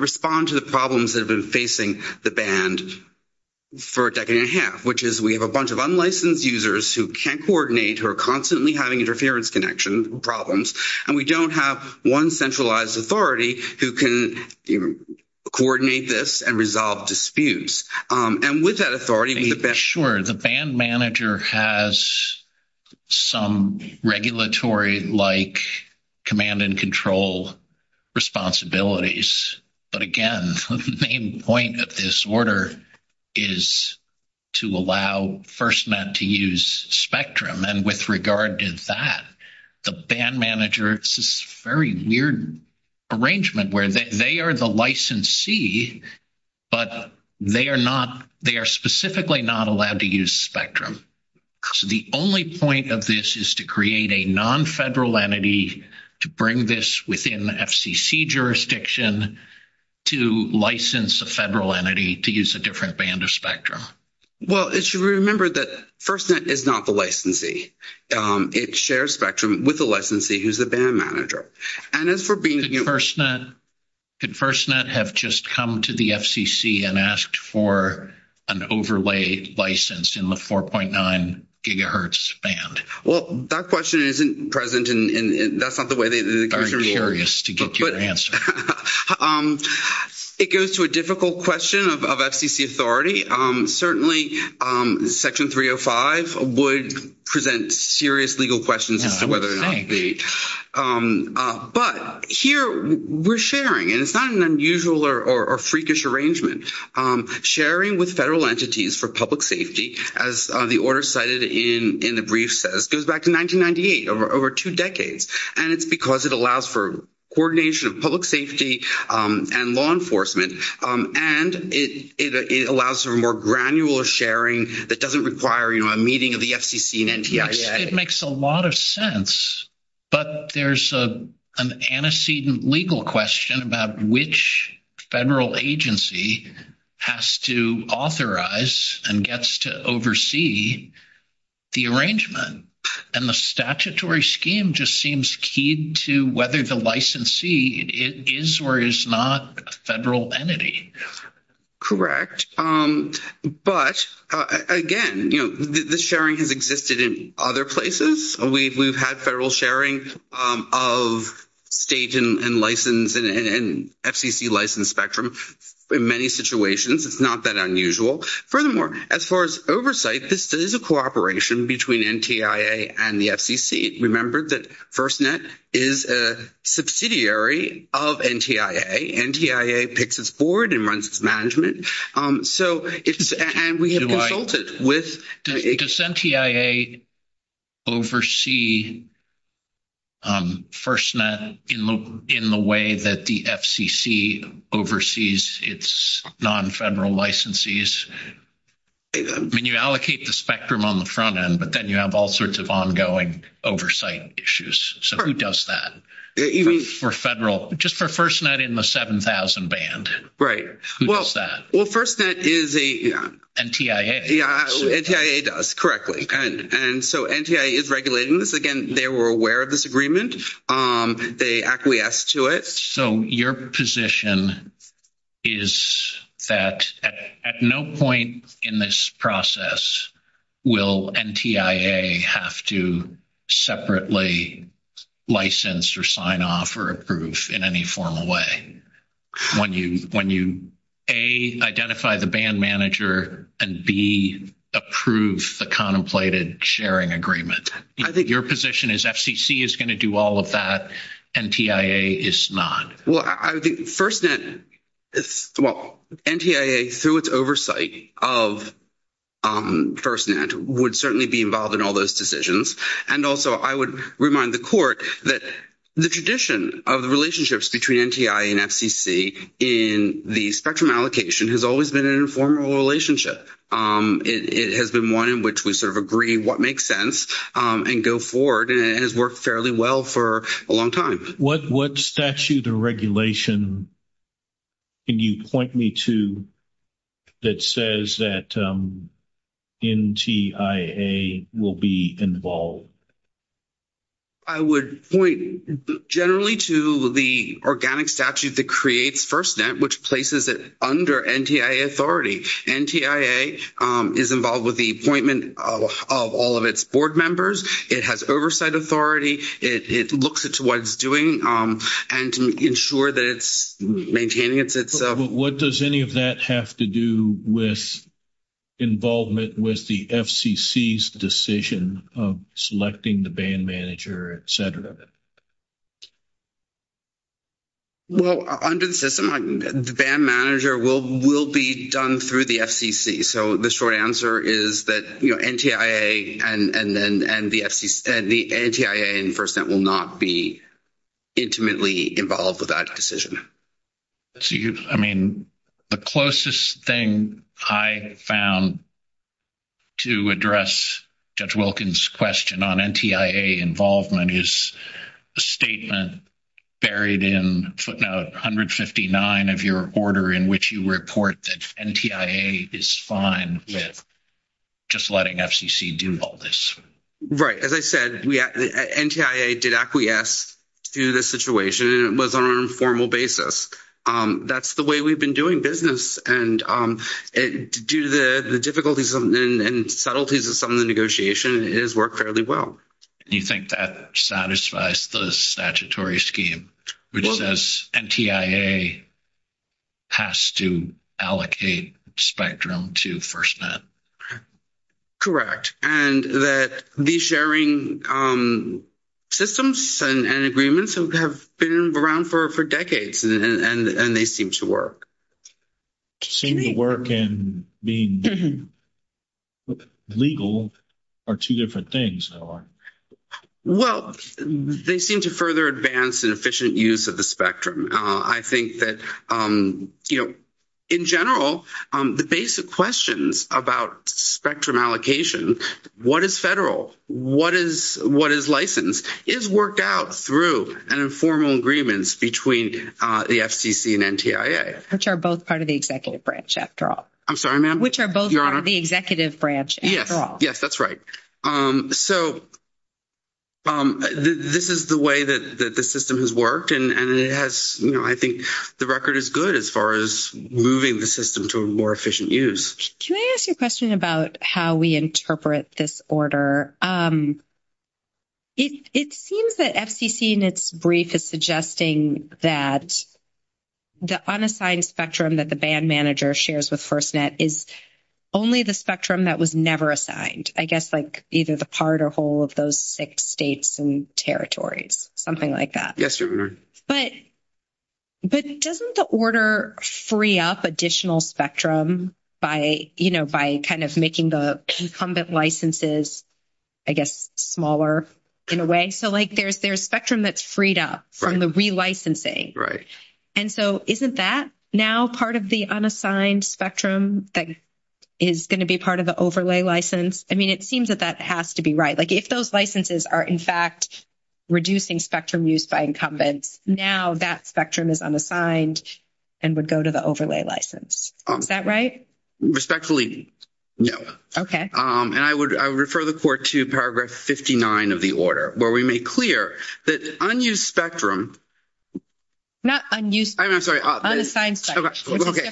respond to the problems that have been facing the band for a decade and a half, which is we have a bunch of unlicensed users who can't coordinate, who are constantly having interference connections or problems, and we don't have one centralized authority who can coordinate this and resolve disputes. And with that authority, the band... Sure. The band manager has some regulatory-like command and control responsibilities. But again, the main point of this order is to allow FirstNet to use arrangement where they are the licensee, but they are specifically not allowed to use spectrum. So the only point of this is to create a non-federal entity to bring this within the FCC jurisdiction to license a federal entity to use a different band of spectrum. Well, it should be remembered that FirstNet is not the licensee. It shares spectrum with the licensee, who is the band manager. And as for being... Could FirstNet have just come to the FCC and asked for an overlaid license in the 4.9 GHz band? Well, that question isn't present, and that's not the way they... I'm curious to get your answer. It goes to a difficult question of FCC authority. Certainly, Section 305 would present serious legal questions as to whether it would be. But here, we're sharing, and it's not an unusual or freakish arrangement. Sharing with federal entities for public safety, as the order cited in the brief says, goes back to 1998, over two decades. And it's because it allows for coordination of public safety and law enforcement, and it allows for more granular sharing that doesn't require a meeting of the FCC and NTIA. It makes a lot of sense. But there's an antecedent legal question about which federal agency has to authorize and gets to oversee the arrangement. And the statutory scheme just seems key to whether the licensee is or is not a federal entity. Correct. But again, you know, the sharing has existed in other places. We've had federal sharing of state and license and FCC license spectrum in many situations. It's not that unusual. Furthermore, as far as oversight, this is a cooperation between NTIA and the FCC. Remember that FirstNet is a subsidiary of NTIA. NTIA picks its board and runs its management. So, and we have consulted with... Does NTIA oversee FirstNet in the way that the FCC oversees its non-federal licensees? I mean, you allocate the spectrum on the front end, but then you have all sorts of ongoing oversight issues. So, who does that? For federal, just for FirstNet in the 7,000 band. Right. Who does that? Well, FirstNet is a... NTIA. Yeah, NTIA does, correctly. And so, NTIA is regulating this. Again, they were aware of this agreement. They acquiesced to it. So, your position is that at no point in this process will NTIA have to separately license or sign off or approve in any formal way when you, A, identify the band manager, and B, approve the contemplated sharing agreement. Your position is FCC is going to do all of that. NTIA is not. Well, I think FirstNet is... Well, NTIA, through its oversight of FirstNet, would certainly be involved in all those decisions. And also, I would remind the court that the tradition of the relationships between NTIA and FCC in the spectrum allocation has always been an informal relationship. It has been one in which we sort of agree what makes sense and go forward. And it has worked fairly well for a long time. What statute or regulation can you point me to that says that NTIA will be involved? I would point generally to the organic statute that creates FirstNet, which places it under NTIA authority. NTIA is involved with the appointment of all of its board members. It has oversight authority. It looks at what it's doing and to ensure that it's maintaining its... What does any of that have to do with involvement with the FCC's decision of selecting the band manager, et cetera? Well, under the system, the band manager will be done through the FCC. So, the short answer is that NTIA and the NTIA in FirstNet will not be intimately involved with that decision. I mean, the closest thing I found to address Judge Wilkins' question on NTIA involvement is the statement buried in footnote 159 of your order in which you report that NTIA is fine with just letting FCC do all this. Right. As I said, NTIA did acquiesce to the situation, and it was on an informal basis. That's the way we've been doing business. And due to the difficulties and subtleties of some of the negotiation, it has worked fairly well. You think that satisfies the statutory scheme, which says NTIA has to allocate Spectrum to FirstNet? Correct. And that the sharing systems and agreements have been around for decades, and they seem to work. They seem to work in being legal are two different things. Well, they seem to further advance an efficient use of the Spectrum. I think that, you know, in general, the basic questions about Spectrum allocation, what is federal, what is licensed, is worked out through an informal agreement between the FCC and NTIA. Which are both part of the executive branch after all. I'm sorry, ma'am? Which are both part of the executive branch after all. Yes, that's right. So this is the way that the system has worked, and it has, you know, I think the record is good as far as moving the system to a more efficient use. Can I ask you a question about how we interpret this order? It seems that FCC in its brief is suggesting that the unassigned Spectrum that the band manager shares with FirstNet is only the Spectrum that was never assigned. I guess, like, either the part or whole of those six states and territories, something like that. Yes, ma'am. But doesn't the order free up additional Spectrum by, you know, by kind of making the incumbent licenses, I guess, smaller in a way? So, like, there's Spectrum that's freed up from the relicensing. And so isn't that now part of the unassigned Spectrum that is going to be part of the overlay license? I mean, it seems that that has to be right. Like, if those licenses are, in fact, reducing Spectrum use by incumbents, now that Spectrum is unassigned and would go to the overlay license. Is that right? Respectfully, no. Okay. And I would refer the court to Paragraph 59 of the order, where we make clear that unused Spectrum. Not unused. I'm sorry. Unassigned Spectrum. Okay.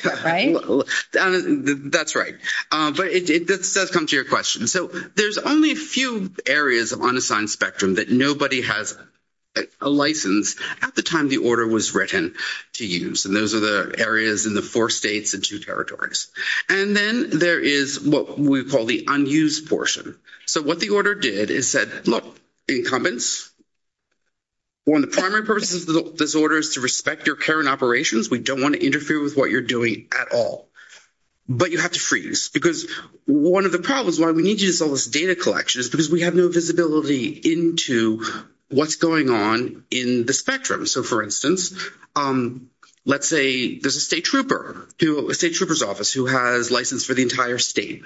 That's right. But it does come to your question. So there's only a few areas of unassigned Spectrum that nobody has a license at the time the order was written to use. And those are the areas in the four states and two territories. And then there is what we call the unused portion. So what the order did is said, look, incumbents, when the primary person's disorder is to respect your current operations, we don't want to interfere with what you're doing at all. But you have to freeze. Because one of the problems, why we need you to do all this data collection is because we have no visibility into what's on in the Spectrum. So, for instance, let's say there's a state trooper, a state trooper's office, who has license for the entire state.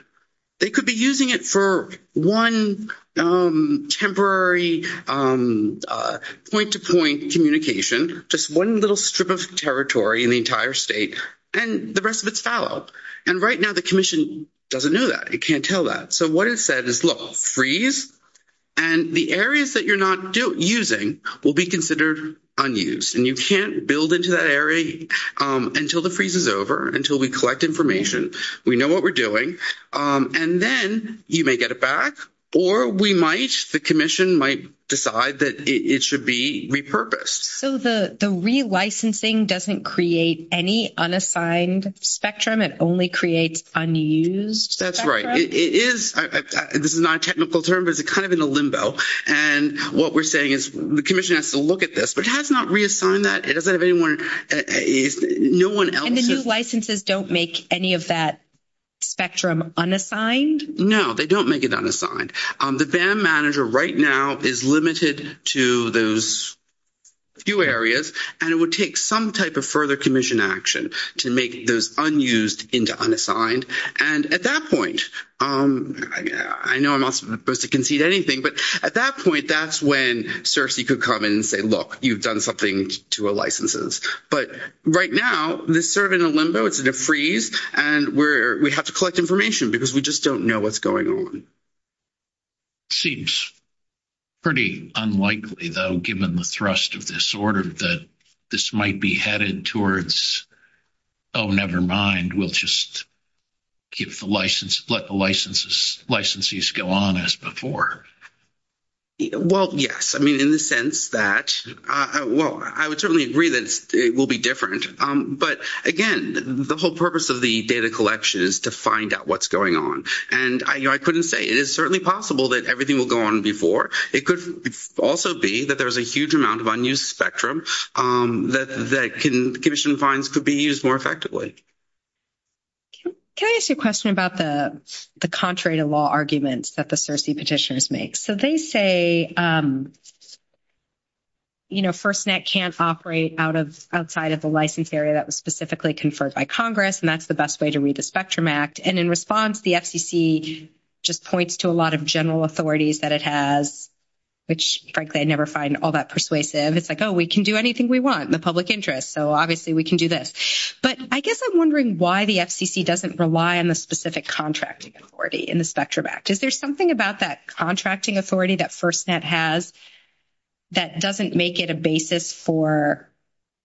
They could be using it for one temporary point-to-point communication, just one little strip of territory in the entire state, and the rest of it's foul. And right now the commission doesn't know that. It can't tell that. So what it said is, look, freeze. And the areas that you're not using will be considered unused. And you can't build into that area until the freeze is over, until we collect information, we know what we're doing. And then you may get it back, or we might, the commission might decide that it should be repurposed. So the re-licensing doesn't create any unassigned Spectrum, it only creates unused That's right. It is, this is not a technical term, but it's kind of in a limbo. And what we're saying is the commission has to look at this, but it has not reassigned that. It doesn't have anyone, no one else. And the new licenses don't make any of that Spectrum unassigned? No, they don't make it unassigned. The BAM manager right now is limited to those few areas, and it would take some type of further action to make those unused into unassigned. And at that point, I know I'm not supposed to concede anything, but at that point, that's when CERC could come and say, look, you've done something to our licenses. But right now, it's sort of in a limbo, it's in a freeze, and we have to collect information because we just don't know what's going on. It seems pretty unlikely, though, given the thrust of this order, that this might be headed towards, oh, never mind, we'll just let the licensees go on as before. Well, yes. I mean, in the sense that, well, I would certainly agree that it will be different. But again, the whole purpose of the data collection is to find out what's going on. And I couldn't say it is certainly possible that everything will go on before. It could also be that there's a huge amount of unused spectrum that commission funds could be used more effectively. Can I ask you a question about the contrary to law arguments that the CERC petitions make? So they say, you know, FirstNet can't operate outside of the license area that was specifically conferred by Congress, and that's the best way to read the Spectrum Act. And in response, the FCC just points to a lot of general authorities that it has, which, frankly, I never find all that persuasive. It's like, oh, we can do anything we want in the public interest, so obviously we can do this. But I guess I'm wondering why the FCC doesn't rely on the specific contracting authority in the Spectrum Act. Is there something about that contracting authority that FirstNet has that doesn't make it a basis for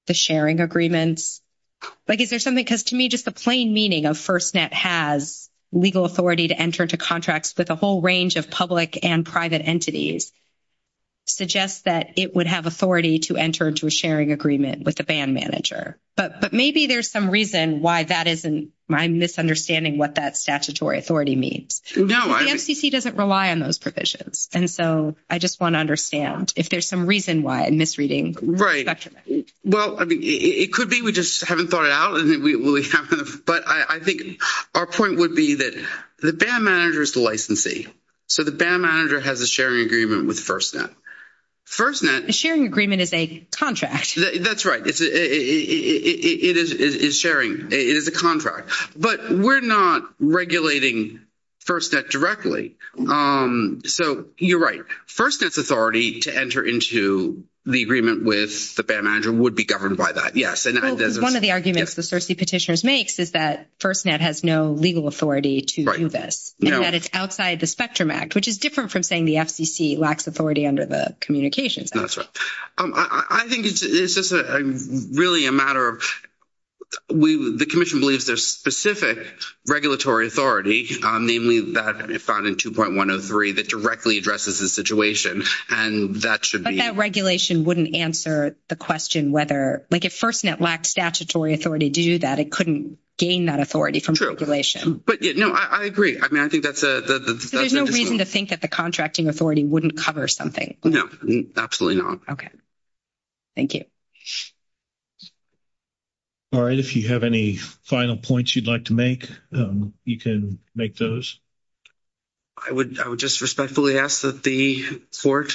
the sharing agreements? Like, to me, just the plain meaning of FirstNet has legal authority to enter into contracts with a whole range of public and private entities suggests that it would have authority to enter into a sharing agreement with the band manager. But maybe there's some reason why that isn't, I'm misunderstanding what that statutory authority means. The FCC doesn't rely on those provisions, and so I just want to understand if there's some reason why I'm misreading. Right. Well, I mean, it could be. We just haven't thought it out. But I think our point would be that the band manager is the licensee. So the band manager has a sharing agreement with FirstNet. FirstNet... The sharing agreement is a contract. That's right. It is sharing. It is a contract. But we're not regulating FirstNet directly. Um, so you're right. FirstNet's authority to enter into the agreement with the band manager would be governed by that. Yes. One of the arguments the Searcy petitioners makes is that FirstNet has no legal authority to do this, and that it's outside the Spectrum Act, which is different from saying the FCC lacks authority under the Communications Act. That's right. I think it's just really a matter of... The Commission believes there's specific regulatory authority, namely that found in 2.103, that directly addresses the situation, and that should be... But that regulation wouldn't answer the question whether... Like, if FirstNet lacked statutory authority to do that, it couldn't gain that authority from regulation. True. But, yeah, no, I agree. I mean, I think that's a... So there's no reason to think that the contracting authority wouldn't cover something. No. Absolutely not. Okay. Thank you. All right. If you have any final points you'd like to make, you can make those. I would just respectfully ask that the court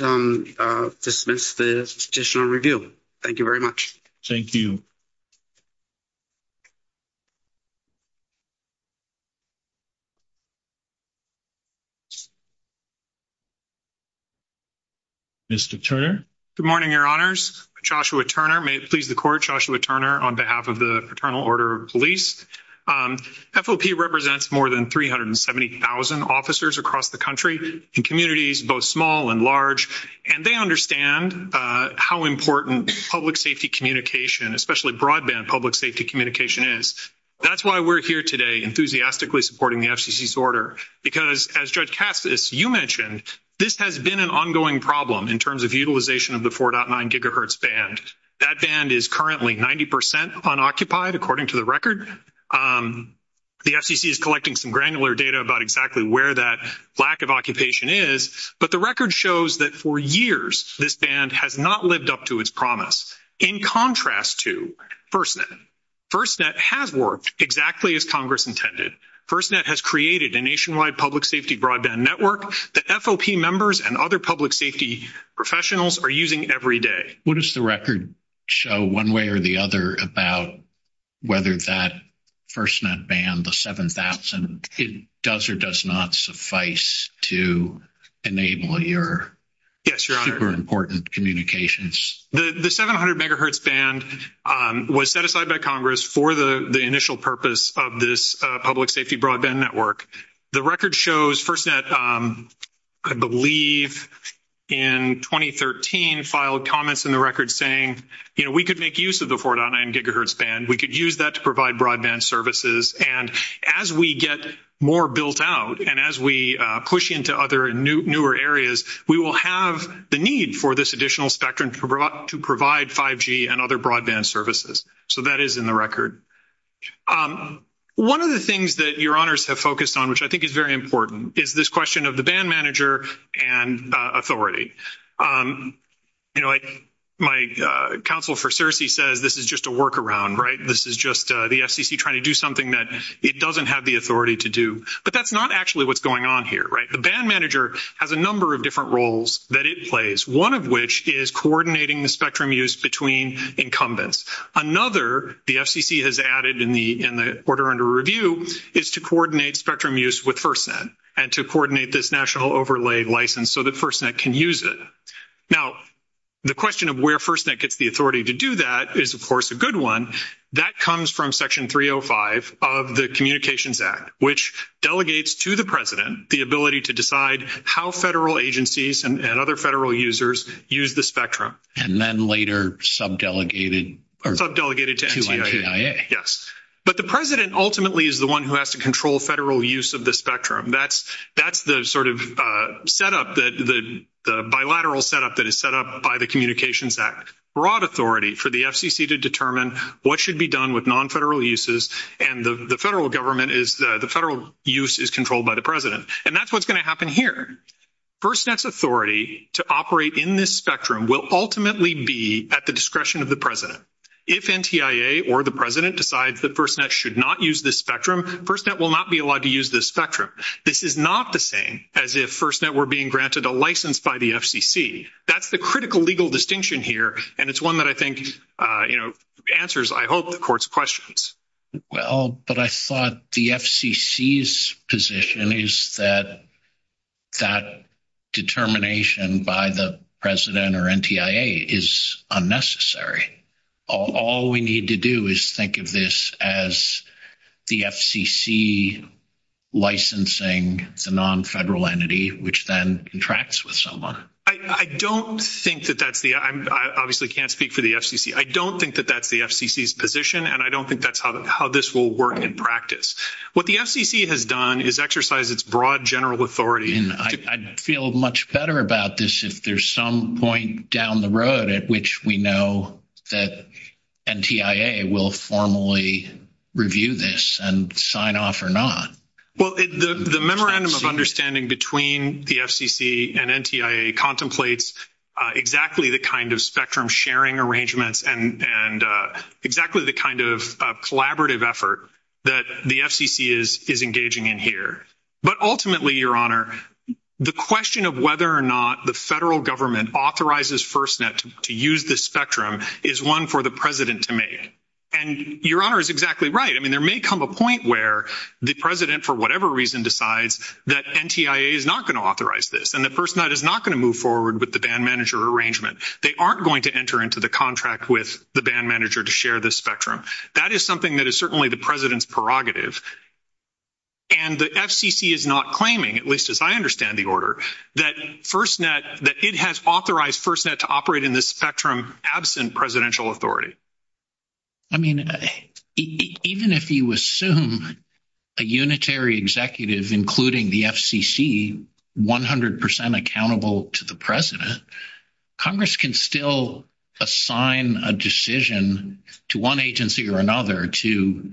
dismiss the judicial review. Thank you very much. Thank you. Mr. Turner. Good morning, Your Honors. Joshua Turner. May it please the Court, Joshua Turner, on behalf of the Paternal Order of Police. FOP represents more than 370,000 officers across the country in communities both small and large, and they understand how important public safety communication, especially broadband public safety communication, is. That's why we're here today enthusiastically supporting the FCC's order, because, as Judge Cassis, you mentioned, this has been an ongoing problem in terms of utilization of the 4.9 gigahertz band. That band is currently 90 percent unoccupied, according to the record. The FCC is collecting some granular data about exactly where that lack of occupation is, but the record shows that for years this band has not lived up to its promise, in contrast to FirstNet. FirstNet has worked exactly as Congress intended. FirstNet has created a nationwide public safety broadband network that FOP members and other public safety professionals are using every day. What does the record show, one way or the other, about whether that FirstNet band, the 7,000, does or does not suffice to enable your important communications? The 700 megahertz band was set aside by Congress for the initial purpose of this public safety broadband network. The record shows FirstNet, I believe, in 2013, filed comments in the record saying, you know, we could make use of the 4.9 gigahertz band, we could use that to provide broadband services, and as we get more built out, and as we push into other newer areas, we will have the need for this additional spectrum to provide 5G and other One of the things that your honors have focused on, which I think is very important, is this question of the band manager and authority. You know, like my counsel for CERCI says, this is just a workaround, right? This is just the FCC trying to do something that it doesn't have the authority to do, but that's not actually what's going on here, right? The band manager has a number of different roles that it plays, one of which is coordinating the spectrum use between incumbents. Another, the FCC has added in the order under review, is to coordinate spectrum use with FirstNet, and to coordinate this national overlay license so that FirstNet can use it. Now, the question of where FirstNet gets the authority to do that is, of course, a good one. That comes from Section 305 of the Communications Act, which delegates to the President the ability to decide how federal agencies and other federal users use the spectrum. And then later sub-delegated to NDIA. Yes. But the President ultimately is the one who has to control federal use of the spectrum. That's the sort of set up, the bilateral set up that is set up by the Communications Act. Broad authority for the FCC to determine what should be done with non-federal uses, and the federal government is, the federal use is controlled by the President. And that's what's happening here. FirstNet's authority to operate in this spectrum will ultimately be at the discretion of the President. If NTIA or the President decides that FirstNet should not use the spectrum, FirstNet will not be allowed to use the spectrum. This is not the same as if FirstNet were being granted a license by the FCC. That's the critical legal distinction here, and it's one that I think, you know, answers, I hope, the Court's questions. Well, but I thought the FCC's position is that that determination by the President or NTIA is unnecessary. All we need to do is think of this as the FCC licensing the non-federal entity, which then contracts with someone. I don't think that that's the, I obviously can't speak for the FCC. I don't think that that's the FCC's position, and I don't think that's how this will work in practice. What the FCC has done is exercise its broad general authority. And I'd feel much better about this if there's some point down the road at which we know that NTIA will formally review this and sign off or not. Well, the memorandum of understanding between the FCC and NTIA contemplates exactly the kind of spectrum sharing arrangements and exactly the kind of collaborative effort that the FCC is engaging in here. But ultimately, Your Honor, the question of whether or not the federal government authorizes FirstNet to use this spectrum is one for the President to make. And Your Honor is exactly right. I mean, there may come a point where the President, for whatever reason, decides that NTIA is not going to authorize this and that FirstNet is not going to move forward with the band manager arrangement. They aren't going to enter into the contract with the band manager to share this spectrum. That is something that is certainly the President's prerogative. And the FCC is not claiming, at least as I understand the order, that FirstNet, that it has authorized FirstNet to operate in this spectrum absent presidential authority. I mean, even if you assume a unitary executive, including the FCC, 100 percent accountable to the President, Congress can still assign a decision to one agency or another to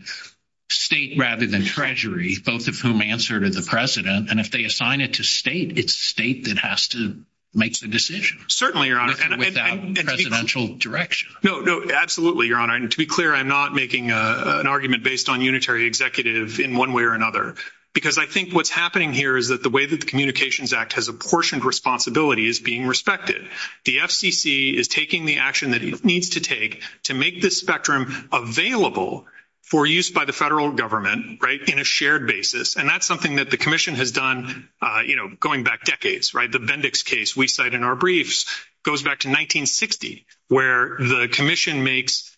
state rather than treasury, both of whom answer to the President. And if they assign it to state, it's state that has to make the decision. Certainly, Your Honor. Without presidential direction. No, no, absolutely, Your Honor. And to be clear, I'm not making an argument based on unitary executive in one way or another, because I think what's happening here is that the way that the Communications Act has apportioned responsibility is being respected. The FCC is taking the action that it needs to take to make this spectrum available for use by the federal government, right, in a shared basis. And that's something that the Commission has done, you know, going back decades, right? The Bendix case we cite in our briefs goes back to 1960, where the Commission makes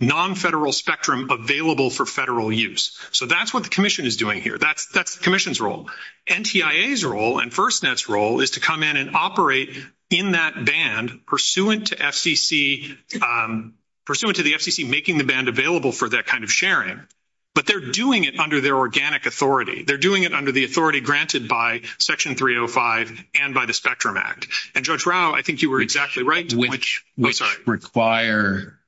non-federal spectrum available for federal use. So that's what the role. NTIA's role and FirstNet's role is to come in and operate in that band pursuant to FCC, pursuant to the FCC making the band available for that kind of sharing. But they're doing it under their organic authority. They're doing it under the authority granted by Section 305 and by the Spectrum Act. And, Judge Rao, I think you were exactly right. Which require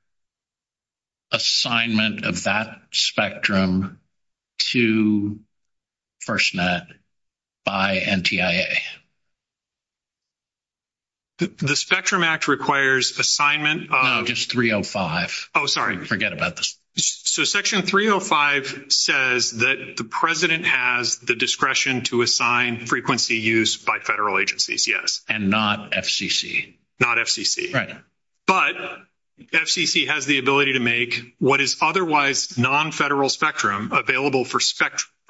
assignment of that spectrum to FirstNet by NTIA. The Spectrum Act requires assignment of... No, just 305. Oh, sorry. I forget about this. So Section 305 says that the President has the discretion to assign frequency use by federal agencies, yes. And not FCC. Not FCC. Right. But FCC has the ability to make what is otherwise non-federal spectrum available for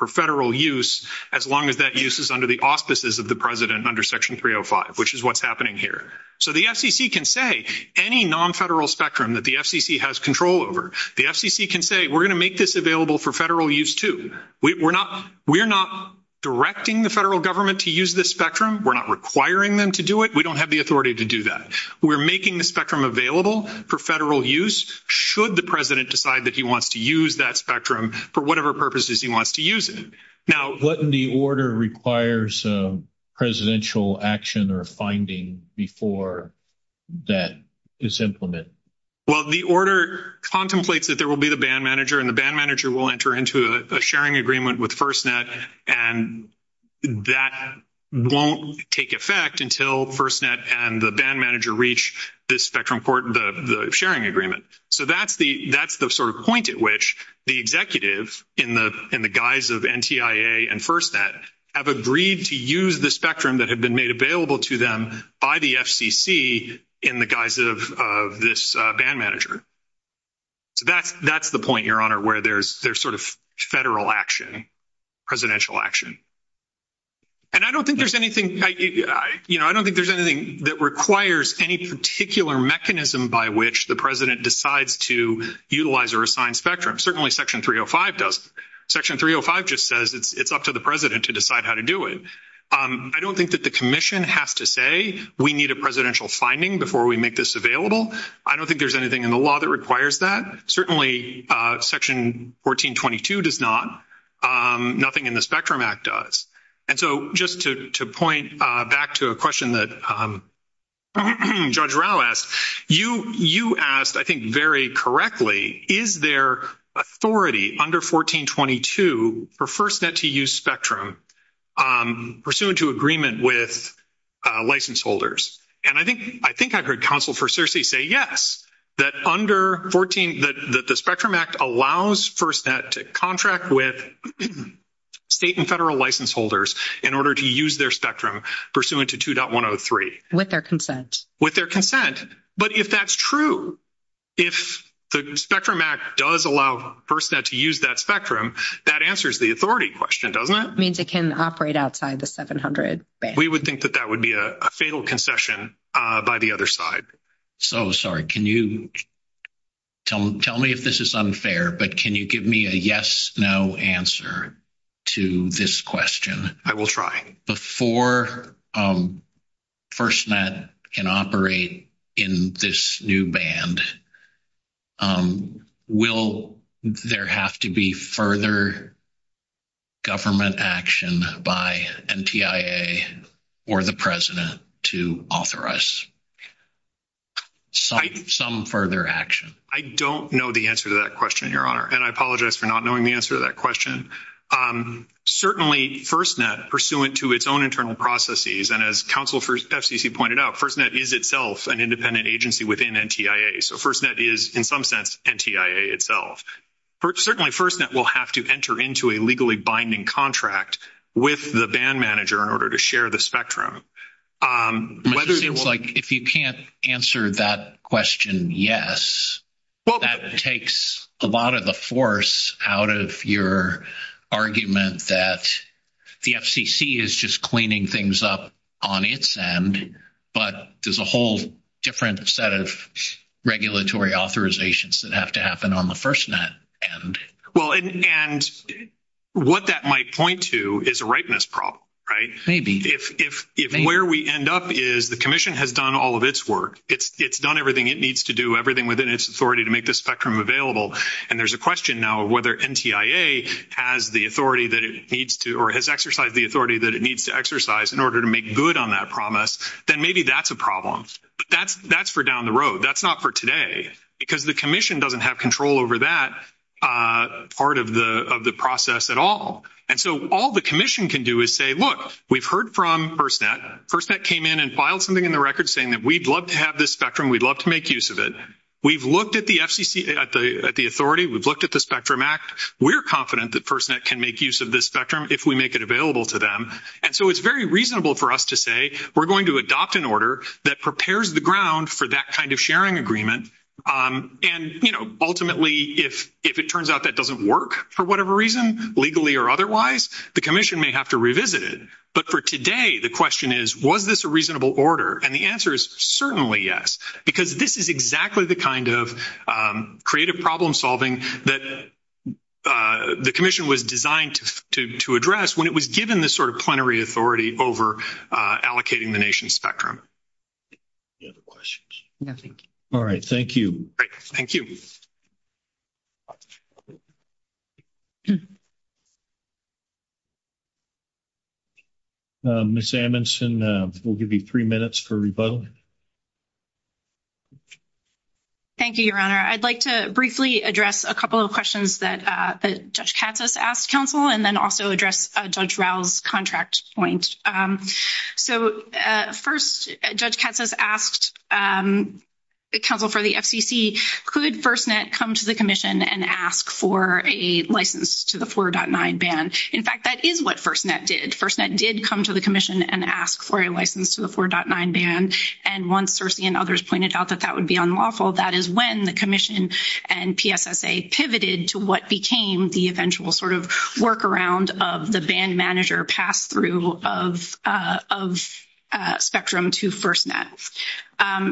federal use, as long as that use is under the auspices of the President under Section 305, which is what's happening here. So the FCC can say any non-federal spectrum that the FCC has control over, the FCC can say, we're going to make this available for federal use too. We're not directing the federal government to use this spectrum. We're not requiring them to do it. We don't have the authority to do that. We're making the spectrum available for federal use should the President decide that he wants to use that spectrum for whatever purposes he wants to use it. Now, wouldn't the order require some presidential action or finding before that is implemented? Well, the order contemplates that there will be the band manager and the band manager will enter into a sharing agreement with FirstNet, and that won't take effect until FirstNet and the band manager reach this spectrum sharing agreement. So that's the sort of point at which the executives in the guise of NTIA and FirstNet have agreed to use the spectrum that had been made available to them by the FCC in the guise of this band manager. So that's the point, Your Honor, where there's sort of federal action, presidential action. And I don't think there's anything that requires any particular mechanism by which the President decides to utilize or assign spectrum. Certainly Section 305 does. Section 305 just says it's up to the President to decide how to do it. I don't think that the Commission has to say, we need a presidential finding before we make this available. I don't think there's anything in the law that requires that. Certainly Section 1422 does not. Nothing in the Spectrum Act does. And so just to point back to a question that Judge Rao asked, you asked, I think, very correctly, is there authority under 1422 for FirstNet to use spectrum pursuant to agreement with license holders? And I think I've heard Counsel for Searcy say yes, that under 14, that the Spectrum Act allows FirstNet to contract with state and federal license holders in order to use their spectrum pursuant to 2.103. With their consent. With their consent. But if that's true, if the Spectrum Act does allow FirstNet to use that spectrum, that answers the authority question, means it can operate outside the 700. We would think that that would be a fatal concession by the other side. So, sorry, can you tell me if this is unfair, but can you give me a yes, no answer to this question? I will try. Before FirstNet can operate in this new band, will there have to be further government action by NTIA or the President to authorize some further action? I don't know the answer to that question, Your Honor. And I apologize for not knowing the answer to that question. Certainly FirstNet, pursuant to its own internal processes, and as Counsel for FCC pointed out, FirstNet is itself an independent agency within NTIA. So FirstNet is, in some sense, NTIA itself. Certainly FirstNet will have to enter into a legally binding contract with the band manager in order to share the spectrum. If you can't answer that question yes, that takes a lot of the force out of your argument that the FCC is just cleaning things up on its end, but there's a whole different set of regulatory authorizations that have to happen on the FirstNet end. Well, and what that might point to is a ripeness problem, right? If where we end up is the Commission has done all of its work, it's done everything it needs to do, everything within its authority to make the spectrum available, and there's a question now of whether NTIA has the authority that it needs to, or has exercised the authority that it needs to exercise in order to make good on that promise, then maybe that's a problem. That's for down the road. That's not for today, because the Commission doesn't have control over that part of the process at all. And so all the Commission can do is say, look, we've heard from FirstNet. FirstNet came in and filed something in the record saying that we'd love to have this spectrum. We'd love to make use of it. We've looked at the FCC, at the authority. We've looked at the Spectrum Act. We're confident that FirstNet can make use of this spectrum if we make it available to them. And so it's very reasonable for us to say we're going to adopt an order that prepares the ground for that kind of sharing agreement. And, you know, ultimately, if it turns out that doesn't work, for whatever reason, legally or otherwise, the Commission may have to revisit it. But for today, the question is, was this a reasonable order? And the answer is certainly yes, because this is exactly the kind of creative problem solving that the Commission was designed to address when it was given this sort of plenary authority over allocating the nation's spectrum. Any other questions? No, thank you. All right. Thank you. Thank you. Ms. Amundson, we'll give you three minutes for rebuttal. Thank you, Your Honor. I'd like to briefly address a couple of questions that Judge Katsas asked counsel, and then also address Judge Rao's contract point. So first, Judge Katsas asked counsel for the FCC, could FirstNet come to the Commission and ask for a license to the 4.9 ban? In fact, that is what FirstNet did. FirstNet did come to the Commission and ask for a license to 4.9 ban. And once Cersei and others pointed out that that would be unlawful, that is when the Commission and PSSA pivoted to what became the eventual sort of workaround of the ban manager pass-through of spectrum to FirstNet.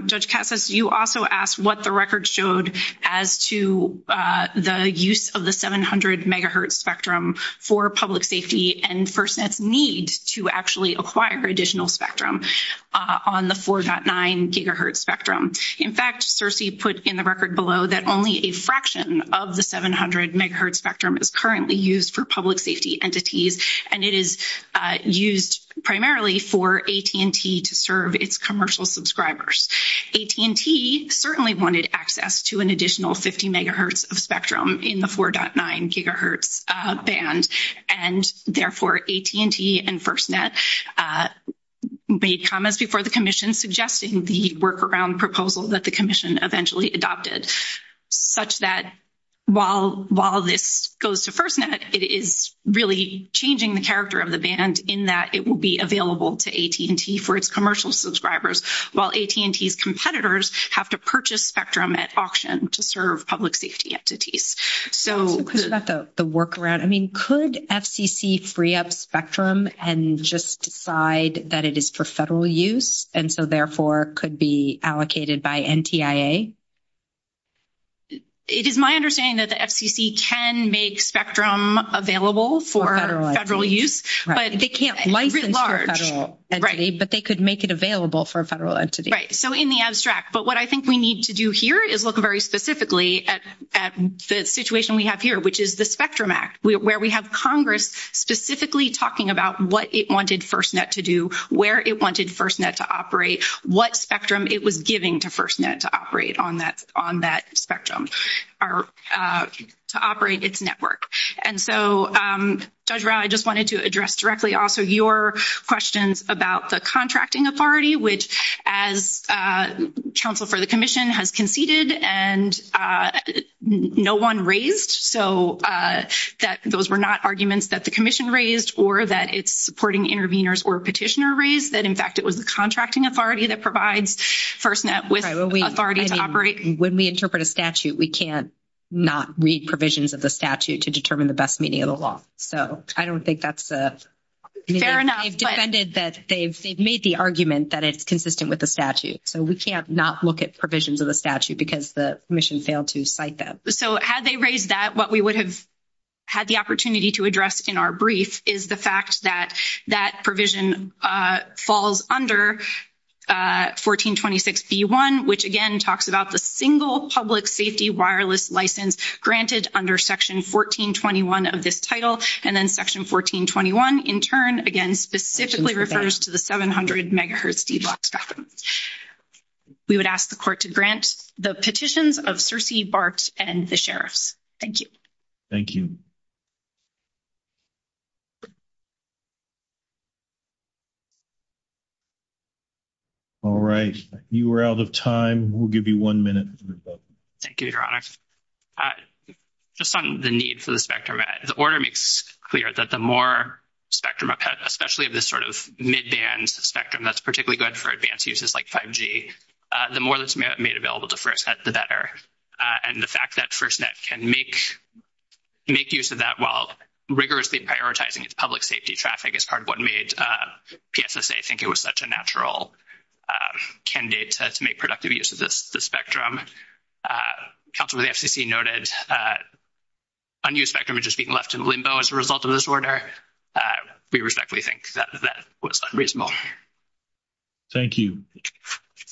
Judge Katsas, you also asked what the record showed as to the use of the 700 megahertz spectrum for public safety and FirstNet's need to actually acquire additional spectrum on the 4.9 gigahertz spectrum. In fact, Cersei put in the record below that only a fraction of the 700 megahertz spectrum is currently used for public safety entities, and it is used primarily for AT&T to serve its commercial subscribers. AT&T certainly wanted access to an additional 50 megahertz of spectrum in the 4.9 gigahertz ban. And therefore, AT&T and FirstNet made comments before the Commission suggesting the workaround proposal that the Commission eventually adopted, such that while this goes to FirstNet, it is really changing the character of the ban in that it will be available to AT&T for its commercial subscribers, while AT&T's competitors have to purchase spectrum at auction to serve public safety entities. So is that the workaround? I mean, could FCC free up spectrum and just decide that it is for federal use, and so therefore could be allocated by NTIA? It is my understanding that the FCC can make spectrum available for federal use, but they can't license it to a federal entity, but they could make it available for a federal entity. Right, so in the abstract. But what I think we need to do here is look very specifically at the situation we have here, which is the Spectrum Act, where we have Congress specifically talking about what it wanted FirstNet to do, where it wanted FirstNet to operate, what spectrum it was giving to FirstNet to operate on that spectrum, to operate its network. And so, Deirdre, I just wanted to address directly also your questions about the contracting authority, which as counsel for the commission has conceded and no one raised, so that those were not arguments that the commission raised or that it's supporting interveners or petitioner raised, that in fact it was the contracting authority that provides FirstNet with authority to operate. When we interpret a statute, we can't not read provisions of the statute to determine the best meaning of the law. So I don't think that's fair enough. They've defended that they've made the argument that it's consistent with the statute. So we can't not look at provisions of the statute because the commission failed to cite that. So had they raised that, what we would have had the opportunity to address in our brief is the fact that that provision falls under 1426b.1, which again talks about the single public safety wireless license granted under section 1421 of this title. And then section 1421 in turn again specifically refers to the 700 megahertz speed lock spectrum. We would ask the court to grant the petitions of Cersei, Bart, and the sheriffs. Thank you. Thank you. All right. You are out of time. We'll give you one minute. Thank you, Your Honor. Just on the need for the spectrum, the order makes clear that the more spectrum, especially this sort of mid-band spectrum that's particularly good for advanced uses like 5G, the more that's made available to FirstNet, the better. And the fact that FirstNet can make use of that while rigorously prioritizing its public safety traffic is part of what made PSSA think it was such a natural candidate to make productive use of this spectrum. Counselor of the FCC noted unused spectrum is just being left in limbo as a result of this order. We respectfully think that that was unreasonable. Thank you.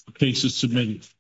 The case is submitted.